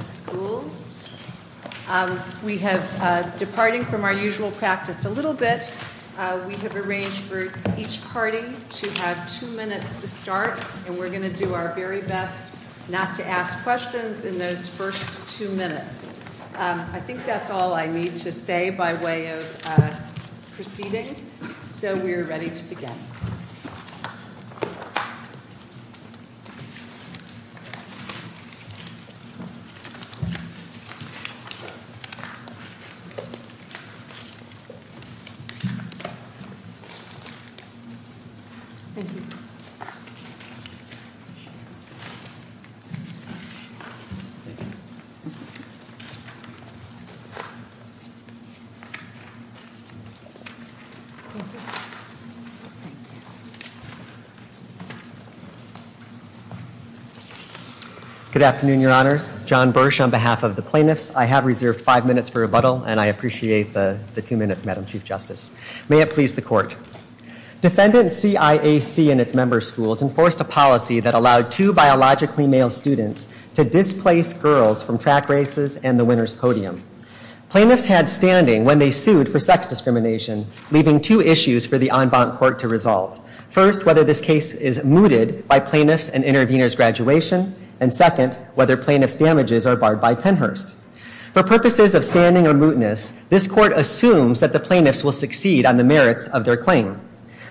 Schools. We have, departing from our usual practice a little bit, we have arranged for each party to have two minutes to start, and we're going to do our very best not to ask questions in those first two minutes. I think that's all I need to say by way of proceeding, so we are ready to begin. Thank you. Good afternoon, Your Honor. John Bursch on behalf of the plaintiffs. I have reserved five minutes for rebuttal, and I appreciate the two minutes, Madam Chief Justice. May it please the court. Defendant C.I.A.C. and its member schools enforced a policy that allowed two biologically male students to displace girls from track races and the winner's podium. Plaintiffs had standing when they sued for sex discrimination, leaving two issues for the court to decide on. First, whether this case is mooted by plaintiffs and intervenors' graduation, and second, whether plaintiffs' damages are barred by Pennhurst. For purposes of standing or mootness, this court assumes that the plaintiffs will succeed on the merits of their claim.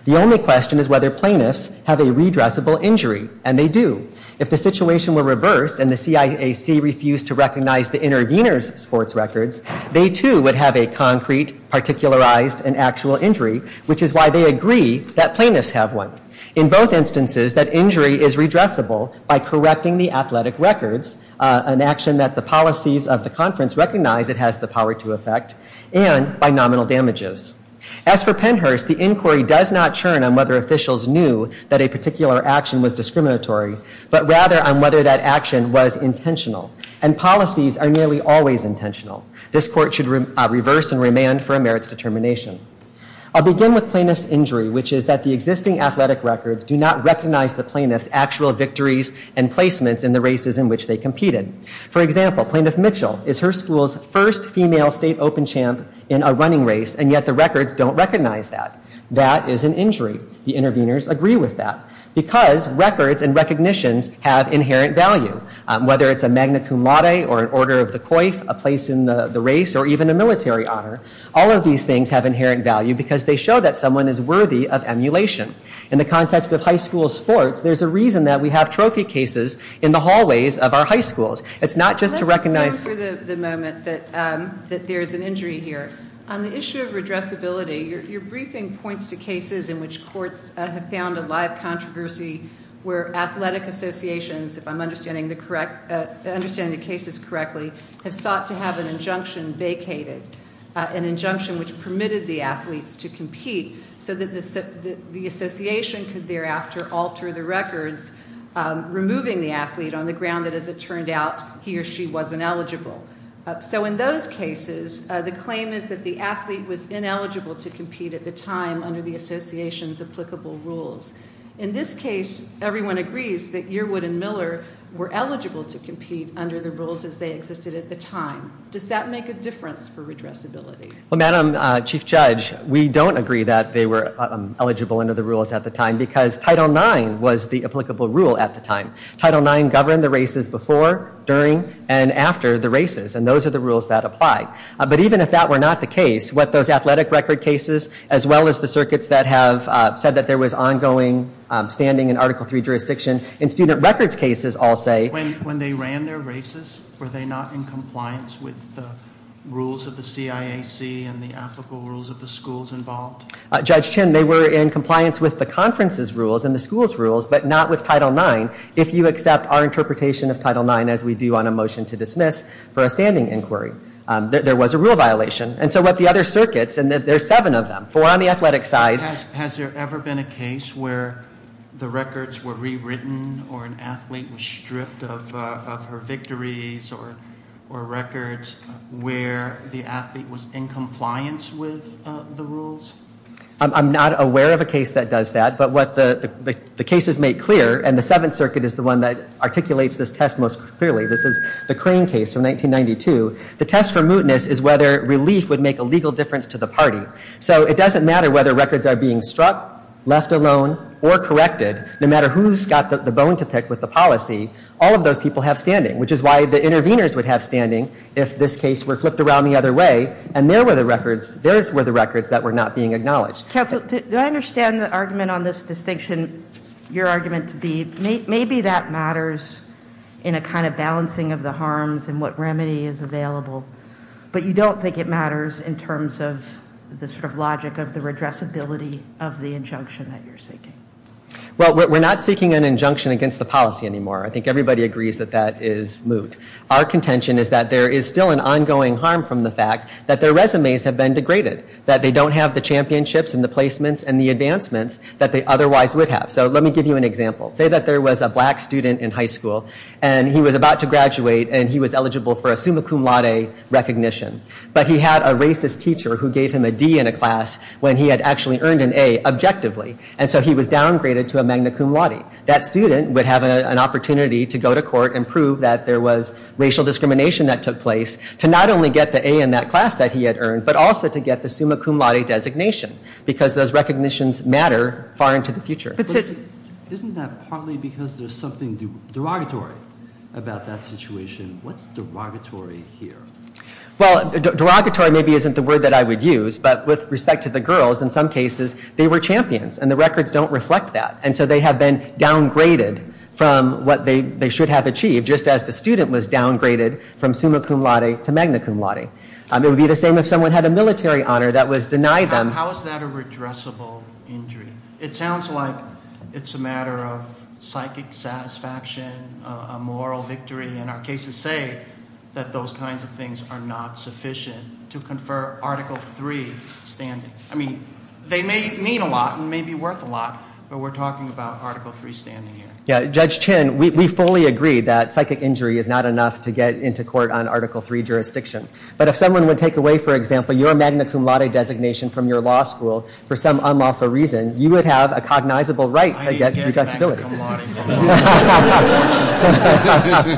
The only question is whether plaintiffs have a redressable injury, and they do. If the situation were reversed and the C.I.A.C. refused to recognize the intervenors' sports records, they too would have a concrete, particularized, and actual injury, which is why they agree that plaintiffs have one. In both instances, that injury is redressable by correcting the athletic records, an action that the policies of the conference recognize it has the power to affect, and by nominal damages. As for Pennhurst, the inquiry does not churn on whether officials knew that a particular action was discriminatory, but rather on whether that action was intentional, and policies are nearly always intentional. This court should reverse and remand for a merits determination. I'll begin with plaintiff's injury, which is that the existing athletic records do not recognize the plaintiff's actual victories and placements in the races in which they competed. For example, Plaintiff Mitchell is her school's first female state open champ in a running race, and yet the records don't recognize that. That is an injury. The intervenors agree with that, because records and recognitions have inherent value, whether it's a magna cum laude, or an order of the coif, a place in the race, or even a military honor. All of these things have inherent value, because they show that someone is worthy of emulation. In the context of high school sports, there's a reason that we have trophy cases in the hallways of our high schools. It's not just to recognize... Let me just say for the moment that there is an injury here. On the issue of redressability, your briefing points to cases in which courts have found a live controversy where athletic associations, if I'm understanding the cases correctly, have thought to have an injunction vacated, an injunction which permitted the athlete to compete, so that the association could thereafter alter the records, removing the athlete on the ground that, as it turned out, he or she wasn't eligible. In those cases, the claim is that the athlete was ineligible to compete at the time under the association's applicable rules. In this case, everyone agrees that Yearwood and Miller were eligible to compete under the rules as they existed at the time. Does that make a difference for redressability? Well, Madam Chief Judge, we don't agree that they were eligible under the rules at the time, because Title IX was the applicable rule at the time. Title IX governed the races before, during, and after the races, and those are the rules that apply. But even if that were not the case, what those athletic record cases, as well as the circuits that have said that there was ongoing standing in Article III jurisdiction, in student records cases all say... When they ran their races, were they not in compliance with the rules of the CIAC and the applicable rules of the schools involved? Judge Chin, they were in compliance with the conference's rules and the school's rules, but not with Title IX. If you accept our interpretation of Title IX, as we do on a motion to dismiss for a standing inquiry, there was a rule violation. And so what the other circuits, and there's seven of them, four on the athletic side... Has there ever been a case where the records were rewritten or an athlete was stripped of her victories or records where the athlete was in compliance with the rules? I'm not aware of a case that does that, but what the cases make clear, and the Seventh Circuit is the one that articulates this test most clearly. This is the Crane case from 1992. The test for mootness is whether relief would make a legal difference to the party. So it doesn't matter whether records are being struck, left alone, or corrected. No matter who's got the bone to pick with the policy, all of those people have standing, which is why the interveners would have standing if this case were flipped around the other way and those were the records that were not being acknowledged. Counsel, do I understand the argument on this distinction, your argument to be maybe that matters in a kind of balancing of the harms and what remedy is available, but you don't think it matters in terms of the sort of logic of the addressability of the injunction that you're seeking? Well, we're not seeking an injunction against the policy anymore. I think everybody agrees that that is moot. Our contention is that there is still an ongoing harm from the fact that their resumes have been degraded, that they don't have the championships and the placements and the advancements that they otherwise would have. So let me give you an example. Say that there was a black student in high school and he was about to graduate and he was eligible for a summa cum laude recognition, but he had a racist teacher who gave him a D in a class when he had actually earned an A objectively and so he was downgraded to a magna cum laude. That student would have an opportunity to go to court and prove that there was racial discrimination that took place to not only get the A in that class that he had earned, but also to get the summa cum laude designation because those recognitions matter far into the future. Isn't that partly because there's something derogatory about that situation? What's derogatory here? Well, derogatory maybe isn't the word that I would use, but with respect to the girls in some cases they were champions and the records don't reflect that and so they have been downgraded from what they should have achieved just as the student was downgraded from summa cum laude to magna cum laude. It would be the same if someone had a military honor that was denied them. So how is that a redressable injury? It sounds like it's a matter of psychic satisfaction, a moral victory, and our cases say that those kinds of things are not sufficient to confer Article III standing. I mean, they may mean a lot and may be worth a lot, but we're talking about Article III standing here. Yeah, Judge Chin, we fully agree that psychic injury is not enough to get into court on Article III jurisdiction, but if someone would take away, for example, your magna cum laude designation from your law school for some unlawful reason, you would have a cognizable right against redressability. I hate magna cum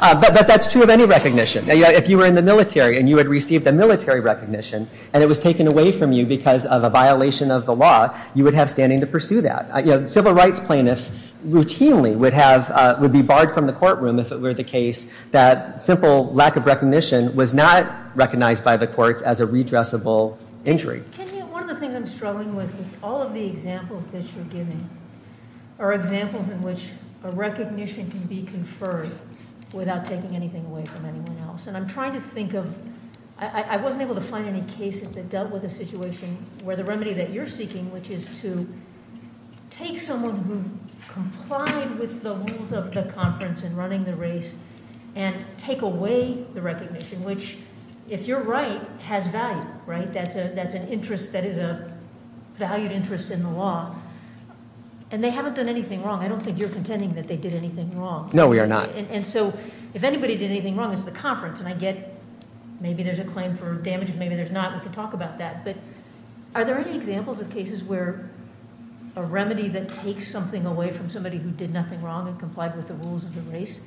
laude. But that's true of any recognition. If you were in the military and you had received a military recognition and it was taken away from you because of a violation of the law, you would have standing to pursue that. Civil rights plaintiffs routinely would be barred from the courtroom if it were the case that simple lack of recognition was not recognized by the court as a redressable injury. One of the things I'm struggling with is all of the examples that you're giving are examples in which a recognition can be conferred without taking anything away from anyone else. And I'm trying to think of, I wasn't able to find any cases that dealt with a situation where the remedy that you're seeking, which is to take someone who complied with the rules of the conference and running the race and take away the recognition, which, if you're right, has value, right? That's an interest that is a valued interest in the law. And they haven't done anything wrong. I don't think you're contending that they did anything wrong. No, we are not. And so if anybody did anything wrong, it's the conference, and I get maybe there's a claim for damages, maybe there's not. We can talk about that. But are there any examples of cases where a remedy that takes something away from somebody who did nothing wrong and followed the rules of the race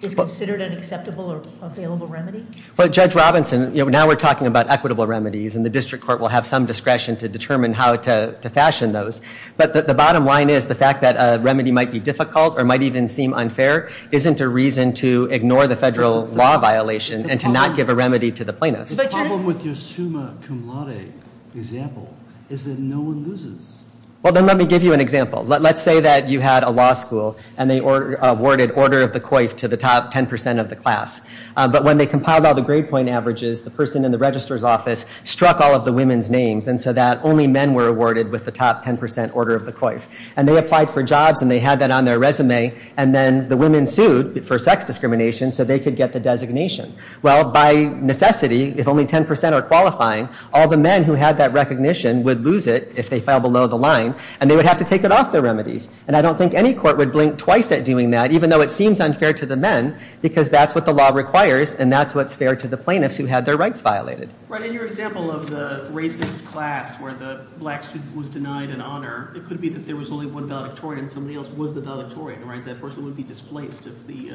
is considered an acceptable or available remedy? Well, Judge Robinson, now we're talking about equitable remedies, and the district court will have some discretion to determine how to fashion those. But the bottom line is the fact that a remedy might be difficult or might even seem unfair isn't a reason to ignore the federal law violation and to not give a remedy to the plaintiff. The problem with your summa cum laude example is that no one loses. Well, then let me give you an example. Let's say that you had a law school, and they awarded order of the coif to the top 10% of the class. But when they compiled all the grade point averages, the person in the registrar's office struck all of the women's names, and so that only men were awarded with the top 10% order of the coif. And they applied for jobs, and they had that on their resume, and then the women sued for sex discrimination so they could get the designation. Well, by necessity, if only 10% are qualifying, all the men who had that recognition would lose it if they fell below the line, and they would have to take it off their remedies. And I don't think any court would blink twice at doing that, even though it seems unfair to the men, because that's what the law requires, and that's what's fair to the plaintiffs who had their rights violated. Right. In your example of the racist class where the black student was denied an honor, it could be that there was only one valedictorian, and somebody else was the valedictorian, right? That person would be displaced if the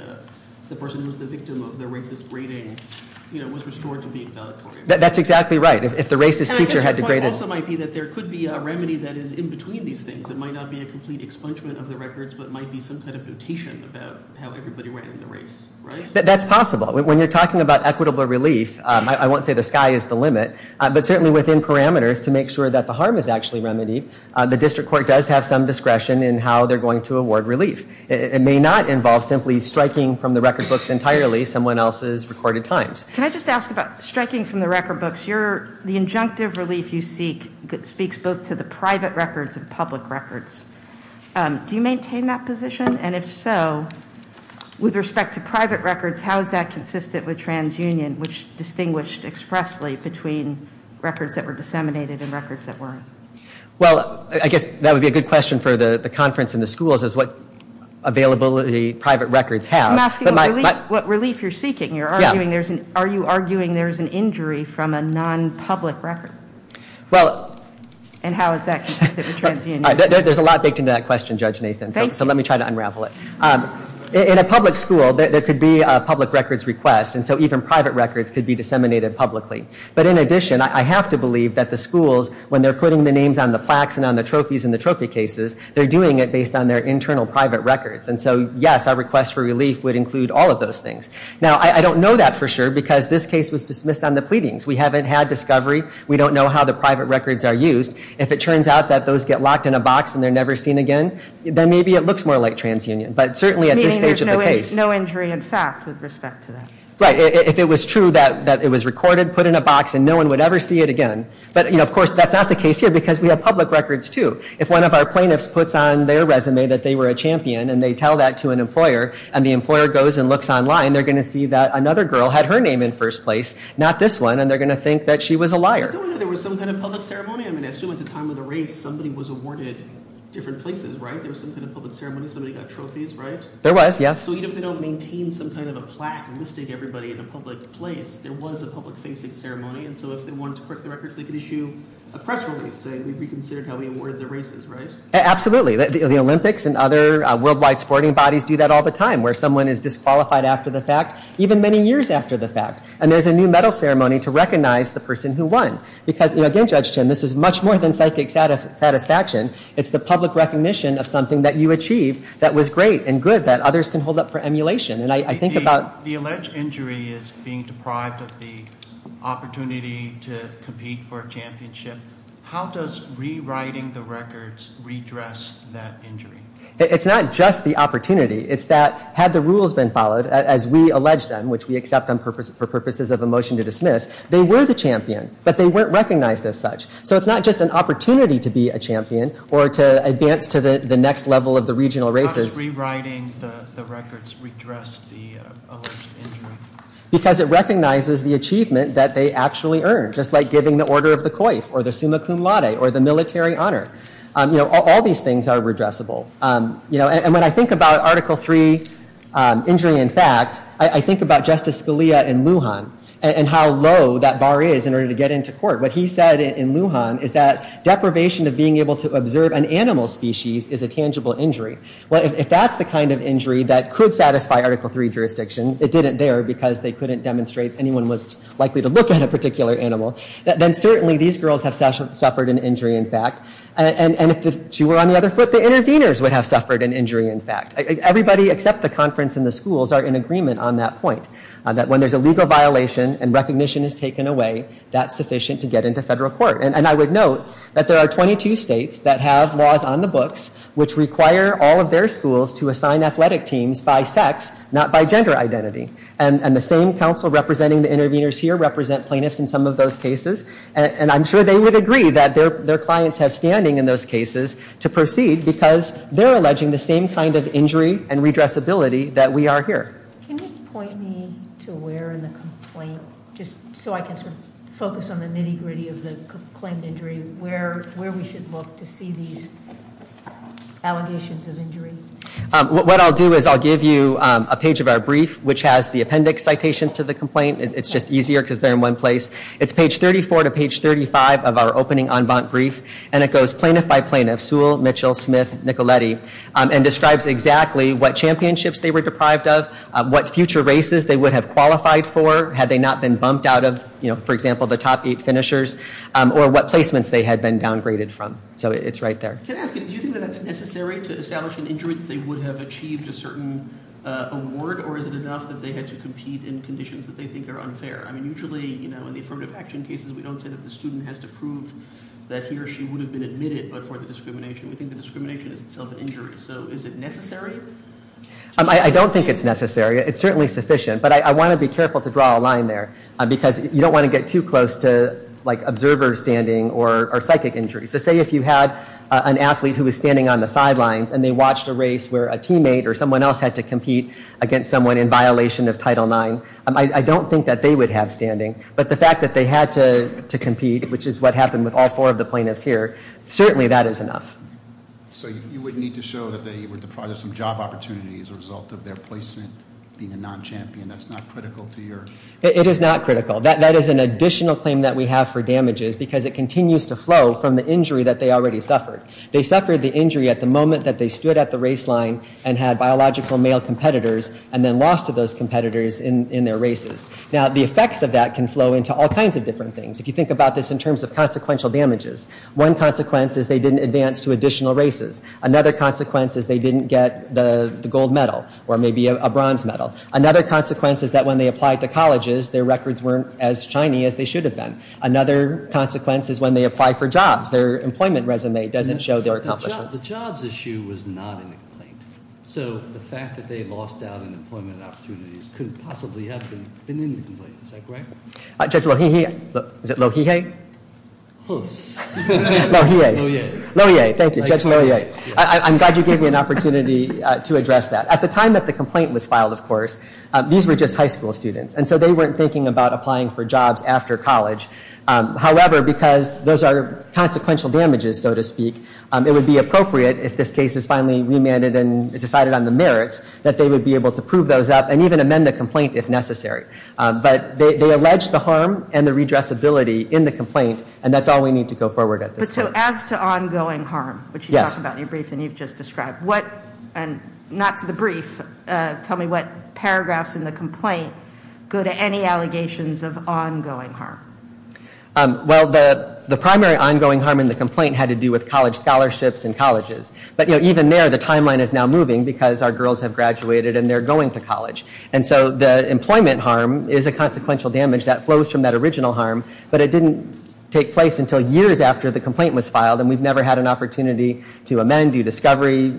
person who was the victim of the racist rating, you know, was restored to being a valedictorian. That's exactly right. If the racist teacher had degraded... And the point also might be that there could be a remedy that is in between these things that might not be a complete expungement of the records, but might be some sort of notation about how everybody rated the race, right? That's possible. When you're talking about equitable relief, I won't say the sky is the limit, but certainly within parameters to make sure that the harm is actually remedied, the district court does have some discretion in how they're going to award relief. It may not involve simply striking from the records books entirely someone else's recorded times. Can I just ask about striking from the record books, the injunctive relief you seek that speaks both to the private records and public records, do you maintain that position? And if so, with respect to private records, how is that consistent with transunion, which distinguished expressly between records that were disseminated and records that weren't? Well, I guess that would be a good question for the conference and the schools is what availability private records have. I'm asking what relief you're seeking. Are you arguing there's an injury from a non-public record? And how is that consistent with transunion? There's a lot baked into that question, Judge Nathan, so let me try to unravel it. In a public school, there could be a public records request, and so even private records could be disseminated publicly. But in addition, I have to believe that the schools, when they're putting the names on the plaques and on the trophies and the trophy cases, they're doing it based on their internal private records. And so yes, our request for relief would include all of those things. Now, I don't know that for sure because this case was dismissed on the pleadings. We haven't had discovery. We don't know how the private records are used. If it turns out that those get locked in a box and they're never seen again, then maybe it looks more like transunion. But certainly at this stage of the case... Meaning there's no injury in fact with respect to that. Right. If it was true that it was recorded, put in a box, and no one would ever see it again. But of course, that's not the case here because we have public records, too. If one of our plaintiffs puts on their resume that they were a champion, and they tell that to an employer, and the employer goes and looks online, they're going to see that another girl had her name in first place, not this one, and they're going to think that she was a liar. There was some kind of public ceremony. I mean, I assume at the time of the raid, somebody was awarded different places, right? There was some kind of public ceremony. Somebody got trophies, right? There was, yes. So even if they don't maintain some kind of a plaque listing everybody in a public place, there was a public facing ceremony. And so if they wanted to print the records, they could issue a press release saying we reconsidered how we awarded the races, right? Absolutely. The Olympics and other worldwide sporting bodies do that all the time, where someone is disqualified after the fact, even many years after the fact. And there's a new medal ceremony to recognize the person who won. Because again, Judge Chen, this is much more than psychic satisfaction. It's the public recognition of something that you achieved that was great and good that others can hold up for emulation. The alleged injury is being deprived of the opportunity to compete for a championship. How does rewriting the records redress that injury? It's not just the opportunity. It's that had the rules been followed, as we alleged them, which we accept them for purposes of a motion to dismiss, they were the champion, but they weren't recognized as such. So it's not just an opportunity to be a champion or to advance to the next level of the regional races. How does rewriting the records redress the alleged injury? Because it recognizes the achievement that they actually earned, just like giving the order of the coif, or the summa cum laude, or the military honor. All these things are redressable. And when I think about Article III injury in fact, I think about Justice Scalia in Lujan and how low that bar is in order to get into court. What he said in Lujan is that deprivation of being able to observe an animal species is a tangible injury. If that's the kind of injury that could satisfy Article III jurisdiction, it didn't there because they couldn't demonstrate anyone was likely to look at a particular animal, then certainly these girls have suffered an injury in fact. And if she were on the other foot, the interveners would have suffered an injury in fact. Everybody except the conference and the schools are in agreement on that point, that when there's a legal violation and recognition is taken away, that's sufficient to get into federal court. And I would note that there are 22 states that have laws on the books which require all of their schools to assign athletic teams by sex, not by gender identity. And the same council representing the interveners here represent plaintiffs in some of those cases. And I'm sure they would agree that their clients have standing in those cases to proceed because they're alleging the same kind of injury and redressability that we are here. Can you point me to where in the complaint, just so I can sort of focus on the nitty-gritty of the complaint injury, where we should look to see these allegations of injury? What I'll do is I'll give you a page of our brief which has the appendix citations to the complaint. It's just easier because they're in one place. It's page 34 to page 35 of our opening en banc brief and it goes plaintiff by plaintiff, Sewell, Mitchell, Smith, Nicoletti and describes exactly what championships they were deprived of, what future races they would have qualified for had they not been bumped out of, for example, the top eight finishers, or what placements they had been downgraded from. So it's right there. Can I ask, do you think that it's necessary to establish an injury that they would have achieved a certain award or is it enough that they had to compete in conditions that they think are unfair? I mean, usually, you know, in the affirmative action cases, we don't say that the student has to prove that he or she would have been admitted before the discrimination. We think the discrimination is itself an injury. So is it necessary? I don't think it's necessary. It's certainly sufficient. But I want to be careful to draw a line there because you don't want to get too close to like observer standing or psychic injury. So say if you had an athlete who was standing on the sidelines and they watched a race where a teammate or someone else had to compete against someone in violation of Title IX, I don't think that they would have standing. But the fact that they had to compete, which is what happened with all four of the plaintiffs here, certainly that is enough. So you would need to show that they were deprived of some job opportunities as a result of their placement being a non-champion. That's not critical to your... It is not critical. That is an additional claim that we have for damages because it comes from the injury that they already suffered. They suffered the injury at the moment that they stood at the race line and had biological male competitors and then lost to those competitors in their races. Now the effects of that can flow into all kinds of different things. If you think about this in terms of consequential damages, one consequence is they didn't advance to additional races. Another consequence is they didn't get the gold medal or maybe a bronze medal. Another consequence is that when they applied to colleges, their records weren't as shiny as they should have been. Another consequence is when they applied for jobs, their employment resume doesn't show their accomplishments. The jobs issue was not in the complaint. So the fact that they lost out on employment opportunities couldn't possibly have been in the complaint. Is that correct? Judge Lohihei. Is it Lohihei? Close. Judge Lohihei. Lohihei. Lohihei, thank you. Judge Lohihei. I'm glad you gave me an opportunity to address that. At the time that the complaint was filed, of course, these were just high school students. And so they weren't thinking about applying for jobs after college. However, because those are consequential damages, so to speak, it would be appropriate if this case is finally remanded and decided on the merits that they would be able to prove those up and even amend the complaint if necessary. But they allege the harm and the redressability in the complaint and that's all we need to go forward at this point. But so as to ongoing harm, which you talk about in your brief and you've just described, not for the brief, tell me what paragraphs in the complaint go to any allegations of ongoing harm. Well, the primary ongoing harm in the complaint had to do with college scholarships and colleges. But even there, the timeline is now moving because our girls have graduated and they're going to college. And so the employment harm is a consequential damage that flows from that original harm, but it didn't take place until years after the complaint was filed and we've never had an opportunity to amend, do discovery,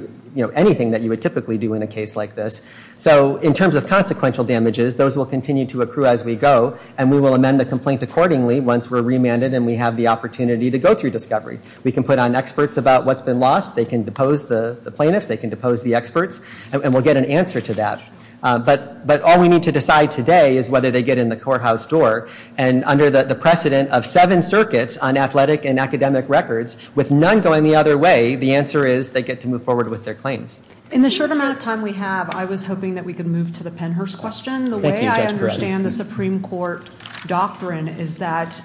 anything that you would typically do in a case like this. So in terms of consequential damages, those will continue to accrue as we go and we will amend the complaint accordingly once we're remanded and we have the opportunity to go through discovery. We can put on experts about what's been lost, they can depose the plaintiffs, they can depose the experts, and we'll get an answer to that. But all we need to decide today is whether they get in the courthouse door and under the precedent of seven circuits on athletic and academic records, with none going the other way, the answer is they get to move forward with their claims. In the short amount of time we have, I was hoping that we could move to the Pennhurst question. The way I understand the Supreme Court doctrine is that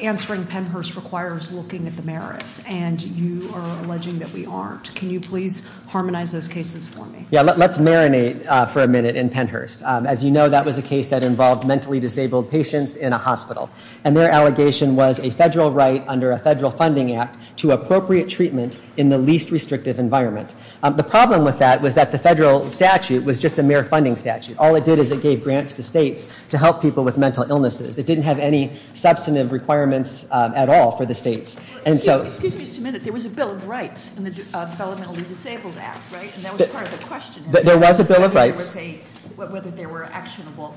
answering Pennhurst requires looking at the merits, and you are alleging that we aren't. Can you please harmonize those cases for me? Yeah, let's marinate for a minute in Pennhurst. As you know, that was a case that involved mentally disabled patients in a hospital, and their allegation was a federal right under a federal funding act to appropriate treatment in the least restrictive environment. The problem with that was that the federal statute was just a mere funding statute. All it did was it gave grants to states to help people with mental illnesses. It didn't have any substantive requirements at all for the states. Excuse me just a minute, there was a Bill of Rights in the Felony Disabled Act, right? And that was part of the question. There was a Bill of Rights. But what if there were actionable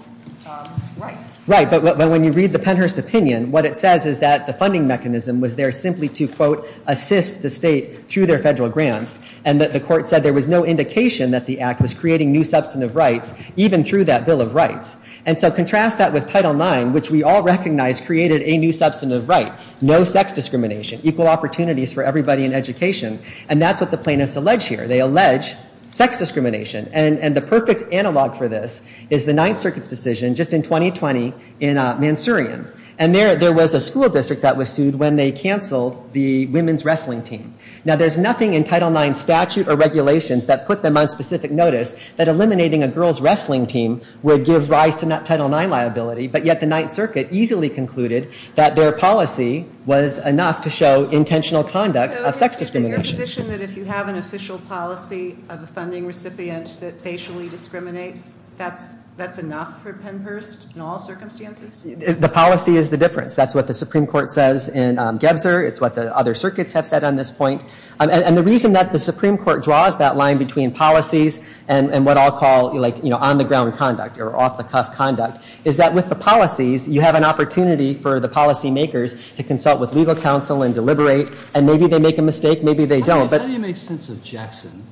rights? Right, but when you read the Pennhurst opinion, what it says is that the funding mechanism was there simply to, quote, assist the state through their federal grants, and that the court said there was no indication that the act was creating new substantive rights, even through that Bill of Rights. And so contrast that with Title IX, which we all recognize created a new substantive right, no sex discrimination, equal opportunities for everybody in education, and that's what the plaintiffs allege here. They allege sex discrimination, and the perfect analog for this is the Ninth Circuit's decision just in 2020 in Mansourian. And there was a school district that was sued when they canceled the women's wrestling team. Now there's nothing in Title IX statute or regulations that put them on specific notice that eliminating a girl's wrestling team would give rise to Title IX liability, but yet the Ninth Circuit easily concluded that their policy was enough to show intentional conduct of sex discrimination. So is it your position that if you have an official policy of a funding recipient that facially discriminates, that's enough for Pennhurst in all circumstances? The policy is the difference. That's what the Supreme Court says in Gebter. It's what the other circuits have said on this point. And the reason that the Supreme Court draws that line between policies and what I'll call on-the-ground conduct or off-the-cuff conduct is that with the policies, you have an opportunity for the policymakers to consult with legal counsel and deliberate, and maybe they make a mistake, maybe they don't. How do you make sense of Jackson,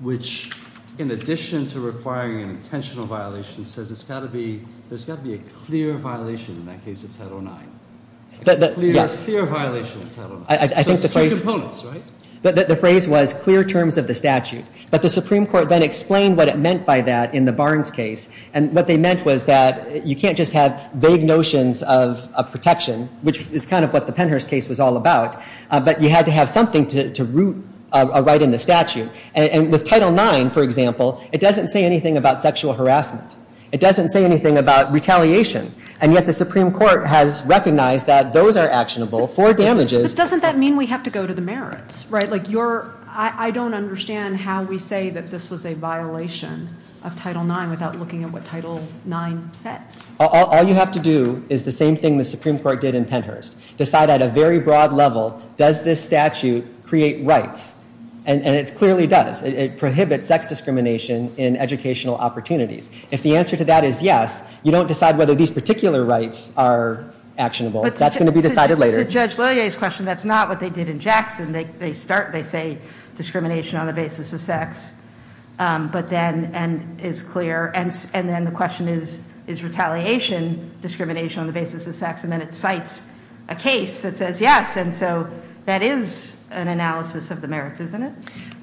which in addition to requiring an intentional violation says there's got to be a clear violation in that case of Title IX? A clear violation of Title IX. I think the phrase was clear terms of the statute, but the Supreme Court then explained what it meant by that in the Barnes case. And what they meant was that you can't just have vague notions of protection, which is kind of what the Pennhurst case was all about, but you had to have something to root right in the statute. And with Title IX, for example, it doesn't say anything about sexual harassment. It doesn't say anything about retaliation. And yet the Supreme Court has recognized that those are actionable for damages. But doesn't that mean we have to go to the merits? I don't understand how we say that this was a violation of Title IX without looking at what Title IX says. All you have to do is the same thing the Supreme Court did in Pennhurst. Decide at a very broad level, does this statute create rights? And it clearly does. It prohibits sex discrimination in educational opportunities. If the answer to that is yes, you don't decide whether these particular rights are actionable. That's going to be decided later. But to Judge Laillier's question, that's not what they did in Jackson. They start, they say discrimination on the basis of sex. But then, and it's clear. And then the question is, is retaliation discrimination on the basis of sex? And then it cites a case that says yes. And so that is an analysis of the merits, isn't it?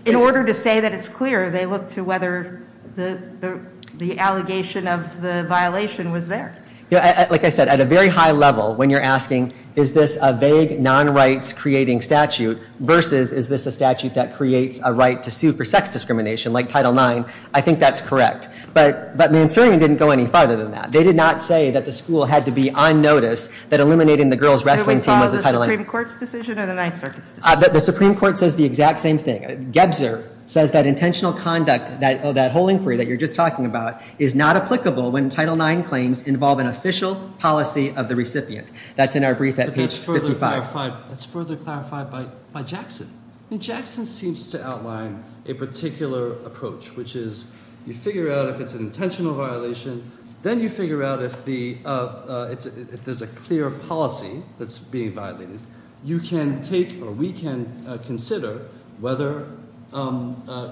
In order to say that it's clear, they look to whether the allegation of the violation was there. Like I said, at a very high level, when you're asking, is this a vague, non-rights-creating statute versus is this a statute that creates a right to sue for sex discrimination, like Title IX, I think that's correct. But Mansourian didn't go any farther than that. They did not say that the school had to be on notice that eliminating the girls wrestling team was a Title IX. Did they follow the Supreme Court's decision or the Ninth Circuit's? The Supreme Court says the exact same thing. Gebzer says that intentional conduct, that whole inquiry that you're just talking about, is not applicable when Title IX claims involve an official policy of the recipient. That's in our brief at page 55. That's further clarified by Jackson. And Jackson seems to outline a particular approach, which is you figure out if it's an intentional violation. Then you figure out if there's a clear policy that's being violated. You can take or we can consider whether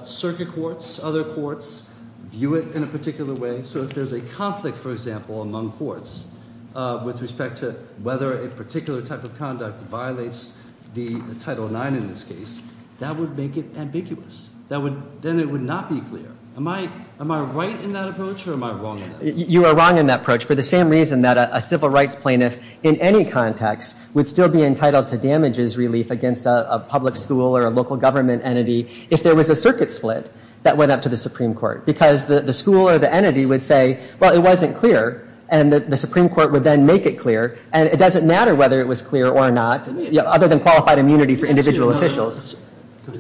circuit courts, other courts, view it in a particular way. So if there's a conflict, for example, among courts with respect to whether a particular type of conduct violates the Title IX in this case, that would make it ambiguous. Then it would not be clear. Am I right in that approach or am I wrong in that? You are wrong in that approach for the same reason that a civil rights plaintiff in any context would still be entitled to damages relief against a public school or a local government entity if there was a circuit split that went up to the Supreme Court. Because the school or the entity would say, well, it wasn't clear. And the Supreme Court would then make it clear. And it doesn't matter whether it was clear or not, other than qualified immunity for individual officials.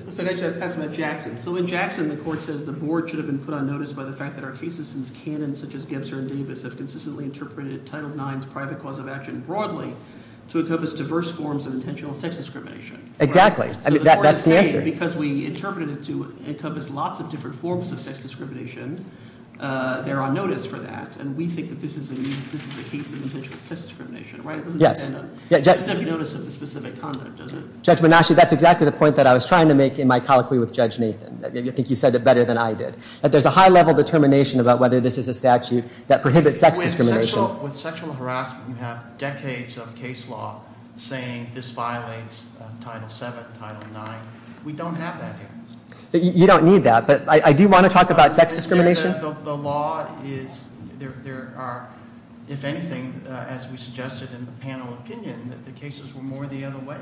So that's about Jackson. So in Jackson, the court says the board should have been put on notice by the fact that our cases in canon, such as Gibson and Davis, have consistently interpreted Title IX's private cause of action broadly to encompass diverse forms of intentional sex discrimination. Exactly. That's the answer. Because we interpreted it to encompass lots of different forms of sex discrimination, they're on notice for that. And we think that this is a unique case of intentional sex discrimination. It doesn't have to be noticed in a specific context, does it? Judge Manasci, that's exactly the point that I was trying to make in my colloquy with Judge Nathan. I think you said it better than I did. That there's a high-level determination about whether this is a statute that prohibits sex discrimination. With sexual harassment, we have decades of case law saying this violates Title VII, Title IX. We don't have that evidence. You don't need that. But I do want to talk about sex discrimination. The law is, there are, if anything, as we suggested in the panel opinion, that the cases were more the other way.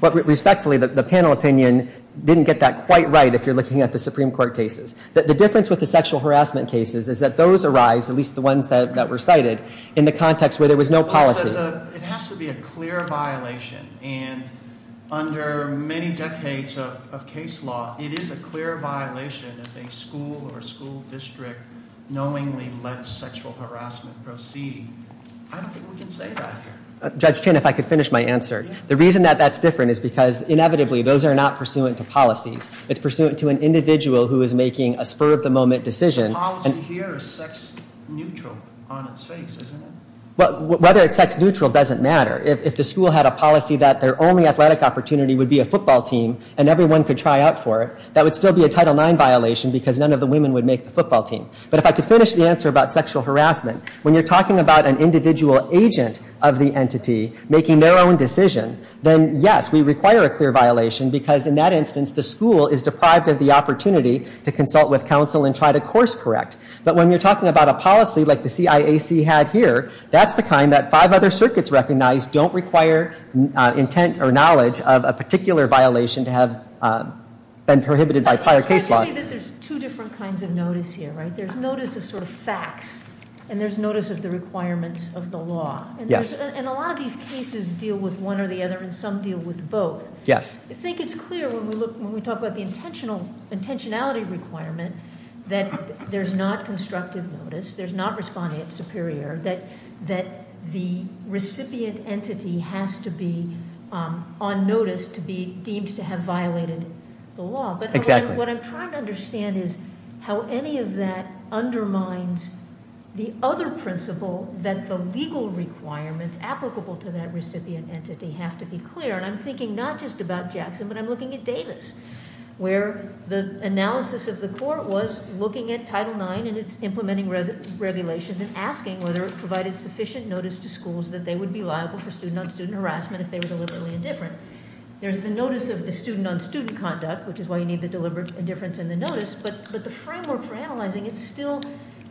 But respectfully, the panel opinion didn't get that quite right if you're looking at the Supreme Court cases. The difference with the sexual harassment cases is that those arise, at least the ones that were cited, in the context where there was no policy. It has to be a clear violation. And under many decades of case law, it is a clear violation if a school or a school district knowingly lets sexual harassment proceed. I don't think we can say that here. Judge Chin, if I could finish my answer. The reason that that's different is because, inevitably, those are not pursuant to policy. It's pursuant to an individual who is making a spur-of-the-moment decision. The policy here is sex neutral on its face, isn't it? Whether it's sex neutral doesn't matter. If the school had a policy that their only athletic opportunity would be a football team and everyone could try out for it, that would still be a Title IX violation because none of the women would make the football team. But if I could finish the answer about sexual harassment, when you're talking about an individual agent of the entity making their own decision, then, yes, we require a clear violation because, in that instance, the school is deprived of the opportunity to consult with counsel and try to course correct. But when you're talking about a policy like the CIAC had here, that's the kind that five other circuits recognize don't require intent or knowledge of a particular violation to have been prohibited by prior case law. I see that there's two different kinds of notice here, right? There's notice of sort of facts and there's notice of the requirements of the law. Yes. And a lot of these cases deal with one or the other and some deal with both. Yes. I think it's clear when we talk about the intentionality requirement that there's not constructive notice, there's not respondent superior, that the recipient entity has to be on notice to be deemed to have violated the law. Exactly. But what I'm trying to understand is how any of that undermines the other principle that the legal requirements applicable to that recipient entity have to be clear. And I'm thinking not just about Jackson, but I'm looking at Davis, where the analysis of the court was looking at Title IX and its implementing regulations and asking whether it provided sufficient notice to schools that they would be liable for student-on-student harassment if they were deliberately indifferent. There's the notice of the student-on-student conduct, which is why you need the deliberate indifference in the notice, but the framework for analyzing it still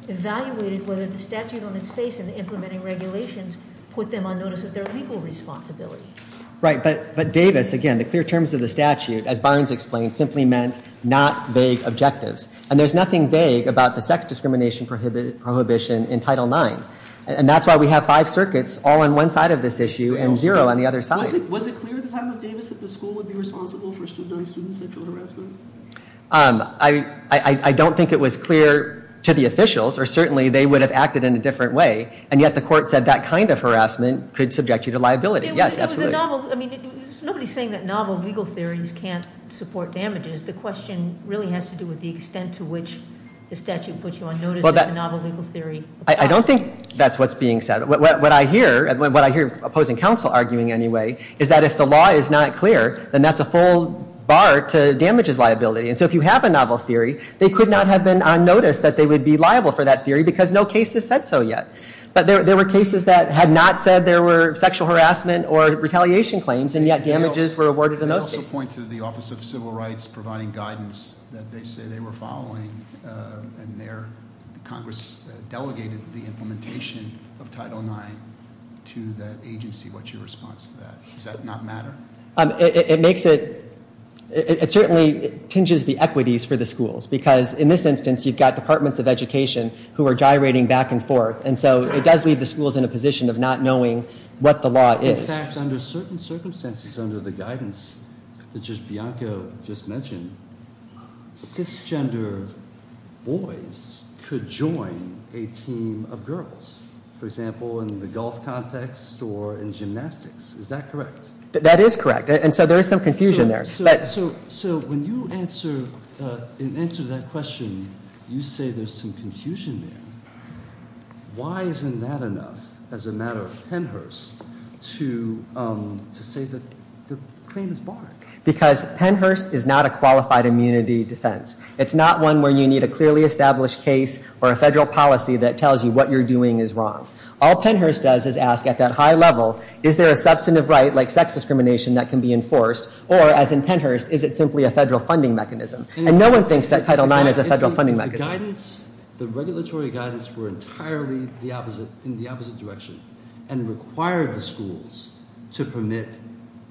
evaluates whether the statute of limitations and implementing regulations put them on notice of their legal responsibility. Right, but Davis, again, the clear terms of the statute, as Barnes explained, simply meant not vague objectives. And there's nothing vague about the sex discrimination prohibition in Title IX. And that's why we have five circuits all on one side of this issue and zero on the other side. Was it clear at the time of Davis that the school would be responsible for student-on-student sexual harassment? I don't think it was clear to the officials, or certainly they would have acted in a different way, and yet the court said that kind of harassment could subject you to liability. Nobody's saying that novel legal theories can't support damages. The question really has to do with the extent to which the statute puts you on notice of a novel legal theory. I don't think that's what's being said. What I hear opposing counsel arguing anyway is that if the law is not clear, then that's a full bar to damages liability. And so if you have a novel theory, they could not have been on notice that they would be liable for that theory because no case has said so yet. But there were cases that had not said there were sexual harassment or retaliation claims, and yet damages were awarded a notice. I also point to the Office of Civil Rights providing guidance that they say they were following in there. Congress delegated the implementation of Title IX to that agency. What's your response to that? Does that not matter? It makes it – it certainly tinges the equities for the schools because in this instance you've got departments of education who are gyrating back and forth. And so it does leave the schools in a position of not knowing what the law is. In fact, under certain circumstances, under the guidance that just Bianca just mentioned, cisgender boys could join a team of girls. For example, in the golf context or in gymnastics. Is that correct? That is correct. And so there is some confusion there. So when you answer that question, you say there's some confusion there. Why isn't that enough as a matter of Pennhurst to say that the claim is barred? Because Pennhurst is not a qualified immunity defense. It's not one where you need a clearly established case or a federal policy that tells you what you're doing is wrong. All Pennhurst does is ask at that high level, is there a substantive right like sex discrimination that can be enforced or as in Pennhurst, is it simply a federal funding mechanism? And no one thinks that Title IX is a federal funding mechanism. The regulatory guidance were entirely in the opposite direction and required the schools to permit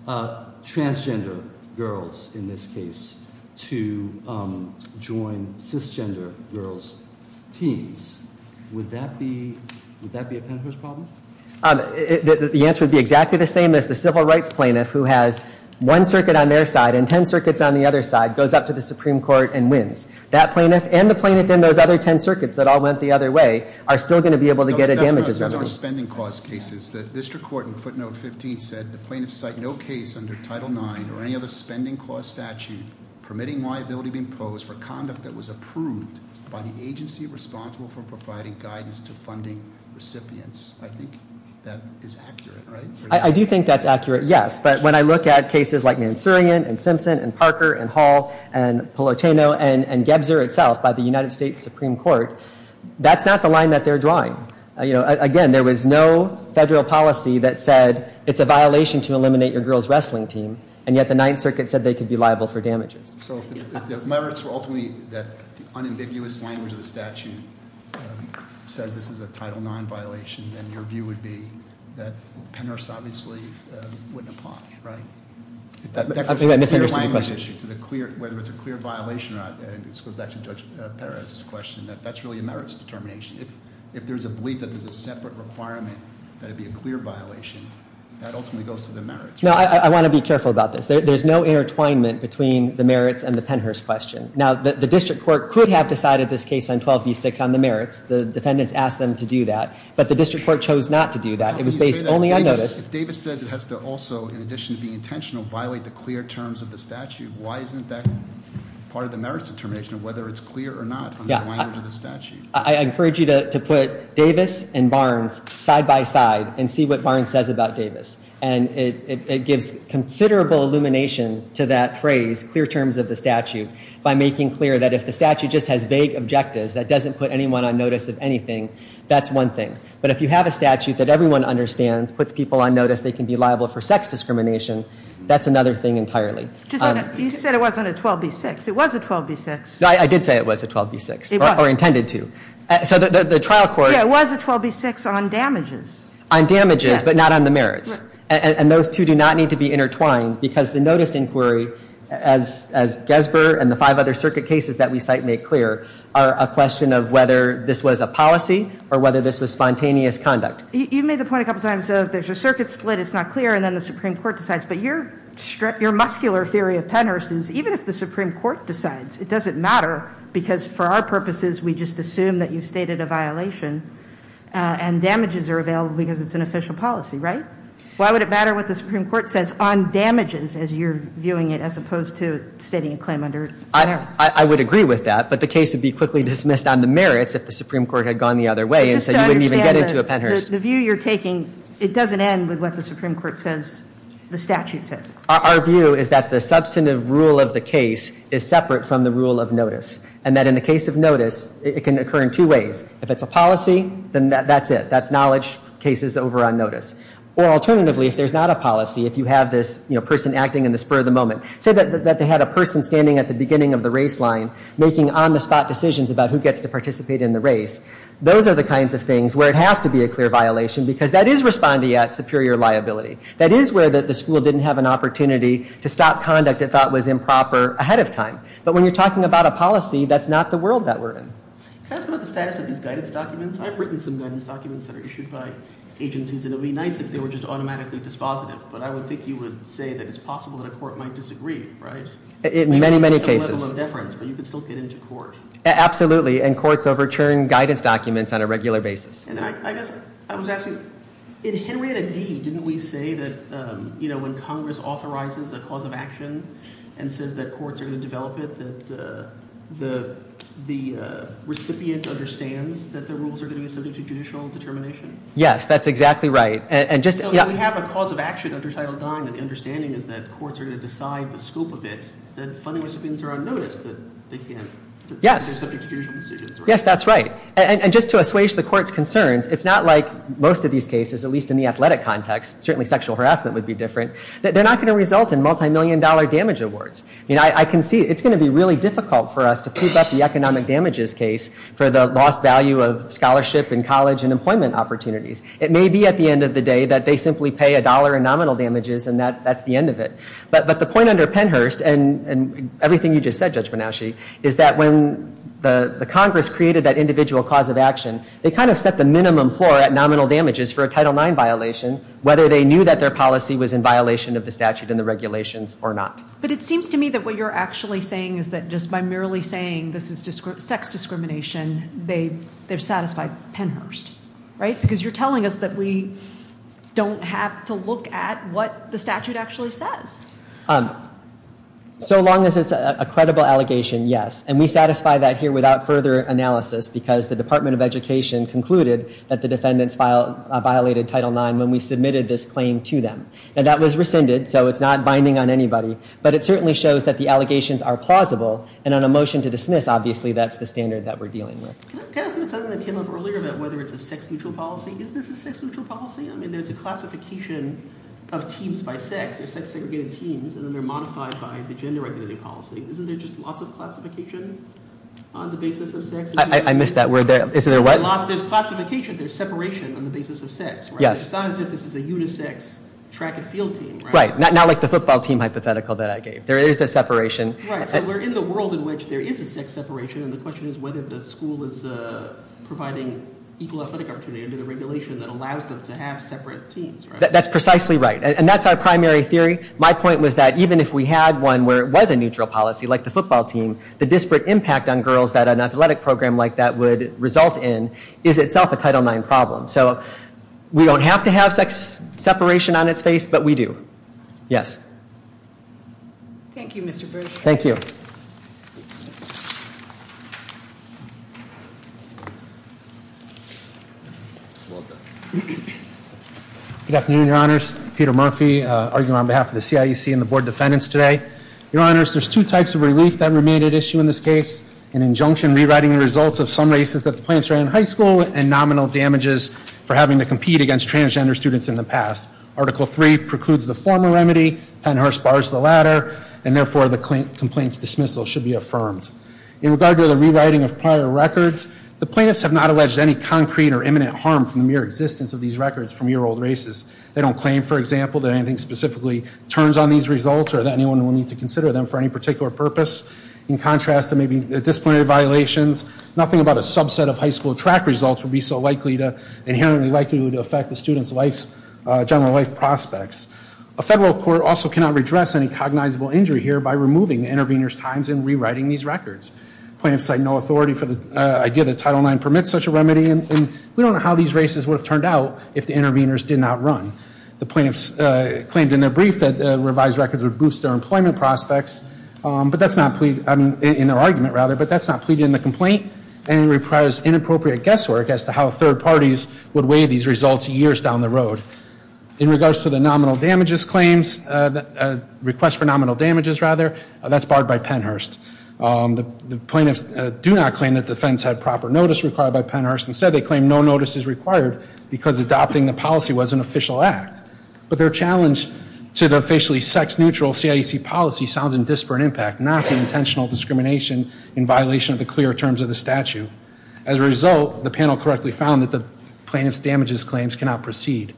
transgender girls, in this case, to join cisgender girls' teams. Would that be a Pennhurst problem? The answer would be exactly the same as the civil rights plaintiff who has one circuit on their side and ten circuits on the other side, goes up to the Supreme Court and wins. That plaintiff and the plaintiff in those other ten circuits that all went the other way are still going to be able to get a damages. No, that's not a spending clause case. The district court in footnote 15 said the plaintiff cite no case under Title IX or any other spending clause statute permitting liability to be imposed for conduct that was approved by the agency responsible for providing guidance to funding recipients. I think that is accurate, right? I do think that's accurate, yes. But when I look at cases like Mansourian and Simpson and Parker and Hall and Polorteno and Gebser itself by the United States Supreme Court, that's not the line that they're drawing. Again, there was no federal policy that said it's a violation to eliminate your girls' wrestling team, and yet the Ninth Circuit said they could be liable for damages. So the merits were ultimately that the unambiguous language of the statute says this is a Title IX violation, and your view would be that Pennhurst obviously wouldn't have caused it, right? That was a clear violation, and I suppose that can touch better on this question, that that's really a merits determination. If there's a belief that there's a separate requirement that it be a clear violation, that ultimately goes to the merits. No, I want to be careful about this. There's no intertwinement between the merits and the Pennhurst question. Now, the district court could have decided this case on 12B6 on the merits. The defendants asked them to do that, but the district court chose not to do that. It was based only on notice. If Davis says it has to also, in addition to being intentional, violate the clear terms of the statute, why isn't that part of the merits determination, whether it's clear or not from the language of the statute? I encourage you to put Davis and Barnes side by side and see what Barnes says about Davis, and it gives considerable illumination to that phrase, clear terms of the statute, by making clear that if the statute just has vague objectives, that doesn't put anyone on notice of anything, that's one thing. But if you have a statute that everyone understands, puts people on notice they can be liable for sex discrimination, that's another thing entirely. You said it wasn't a 12B6. It was a 12B6. I did say it was a 12B6. It was. Or intended to. So the trial court... Yeah, it was a 12B6 on damages. On damages, but not on the merits. And those two do not need to be intertwined, because the notice inquiry, as Gesber and the five other circuit cases that we cite make clear, are a question of whether this was a policy or whether this was spontaneous conduct. You made the point a couple times, if there's a circuit split, it's not clear, and then the Supreme Court decides. But your muscular theory of tenors, even if the Supreme Court decides, it doesn't matter, because for our purposes, we just assume that you stated a violation, and damages are available because it's an official policy, right? Why would it matter what the Supreme Court says on damages, as you're viewing it, as opposed to stating a claim under merits? I would agree with that, but the case would be quickly dismissed on the merits if the Supreme Court had gone the other way and said you didn't even get into a tenor. The view you're taking, it doesn't end with what the Supreme Court says, the statute says. Our view is that the substantive rule of the case is separate from the rule of notice, and that in the case of notice, it can occur in two ways. If it's a policy, then that's it. That's knowledge cases over on notice. Or alternatively, if there's not a policy, if you have this person acting in the spur of the moment, say that they had a person standing at the beginning of the race line, making on-the-spot decisions about who gets to participate in the race, those are the kinds of things where it has to be a clear violation, because that is responding at superior liability. That is where the school didn't have an opportunity to stop conduct they thought was improper ahead of time. But when you're talking about a policy, that's not the world that we're in. Can I ask about the status of these guidance documents? I've written some guidance documents that are issued by agencies, and it would be nice if they were just automatically dispositive, but I would think you would say that it's possible that a court might disagree, right? In many, many cases. And there's still a level of deference, but you can still get into court. Absolutely, and courts overturn guidance documents on a regular basis. I was asking, in Henrietta D, didn't we say that, you know, when Congress authorizes a cause of action and says that courts are going to develop it, that the recipient understands that the rules are going to be subject to judicial determination? Yes, that's exactly right. So if we have a cause of action under Title IX and understanding that courts are going to decide the scope of it, then fundamental things are unnoticed, but they can't be subject to judicial decisions, right? Yes, that's right. And just to assuage the court's concerns, it's not like most of these cases, at least in the athletic context, certainly sexual harassment would be different, that they're not going to result in multi-million dollar damage awards. I mean, I can see, it's going to be really difficult for us to prove that the economic damages case for the lost value of scholarship and college and employment opportunities. It may be at the end of the day that they simply pay a dollar in nominal damages and that's the end of it. But the point under Pennhurst, and everything you just said, Judge Bernaschi, is that when the Congress created that individual cause of action, they kind of set the minimum floor at nominal damages for a Title IX violation, whether they knew that their policy was in violation of the statute and the regulations or not. But it seems to me that what you're actually saying is that just by merely saying this is sex discrimination, they've satisfied Pennhurst, right? Because you're telling us that we don't have to look at what the statute actually says. So long as it's a credible allegation, yes. And we satisfy that here without further analysis because the Department of Education concluded that the defendants violated Title IX when we submitted this claim to them. And that was rescinded, so it's not binding on anybody. But it certainly shows that the allegations are plausible and on a motion to dismiss, obviously that's the standard that we're dealing with. Can I ask you a question that came up earlier about whether it's a sex-neutral policy? Isn't this a sex-neutral policy? I mean, there's a classification of teams by sex. There's sex-segregated teams and then they're modified by the gender-regulating policy. Isn't there just lots of classification on the basis of sex? I missed that word there. Isn't there what? There's not just classification, there's separation on the basis of sex. Yes. It sounds like this is a unisex track and field team. Right. Not like the football team hypothetical that I gave. There is a separation. Right, so we're in the world in which there is a sex separation and the question is whether the school is providing equal athletic opportunity under the regulation that allows them to have separate teams. That's precisely right. And that's our primary theory. My point was that even if we had one where it was a neutral policy like the football team, the disparate impact on girls that an athletic program like that would result in is itself a Title IX problem. So we don't have to have sex separation on its face, but we do. Yes. Thank you, Mr. Berg. Thank you. Good afternoon, Your Honors. Peter Murphy, arguing on behalf of the CIEC and the Board of Defendants today. Your Honors, there's two types of relief that remain at issue in this case. An injunction rewriting the results of some races that the plaintiffs are in high school and nominal damages for having to compete against transgender students in the past. Article III precludes and therefore, the complaint's dismissal should be affirmed. In regard to the rewriting of Part 3, I would like to call The plaintiffs have not alleged any concrete or imminent harm from the mere existence of these records from year-old races. They don't claim, for example, that anything specifically turns on these results or that anyone will need to consider them for any particular purpose. In contrast, there may be, at this point, a violation. Nothing about a subset of high school track results would be so likely to, inherently likely, to affect the student's life, general life prospects. A federal court also cannot redress any cognizable injury here by removing the intervener's times in rewriting these records. The plaintiffs have no authority for the idea that Title IX permits such a remedy and we don't know how these races would have turned out if the interveners did not run. The plaintiffs claimed in their brief that revised records would boost their employment prospects, but that's not, in their argument, rather, but that's not pleading the complaint and requires inappropriate guesswork as to how third parties would weigh these results years down the road. In regards to the nominal damages claims, request for nominal damages, rather, that's barred by Pennhurst. The plaintiffs do not claim that the defense had proper notice required by Pennhurst and said they claim no notice is required because adopting the policy was an official act, but their challenge to the officially sex-neutral CIEC policy sounds in disparate impact, not the intentional discrimination in violation of the clear terms of the statute. As a result, the panel correctly found that the plaintiff's damages claims cannot proceed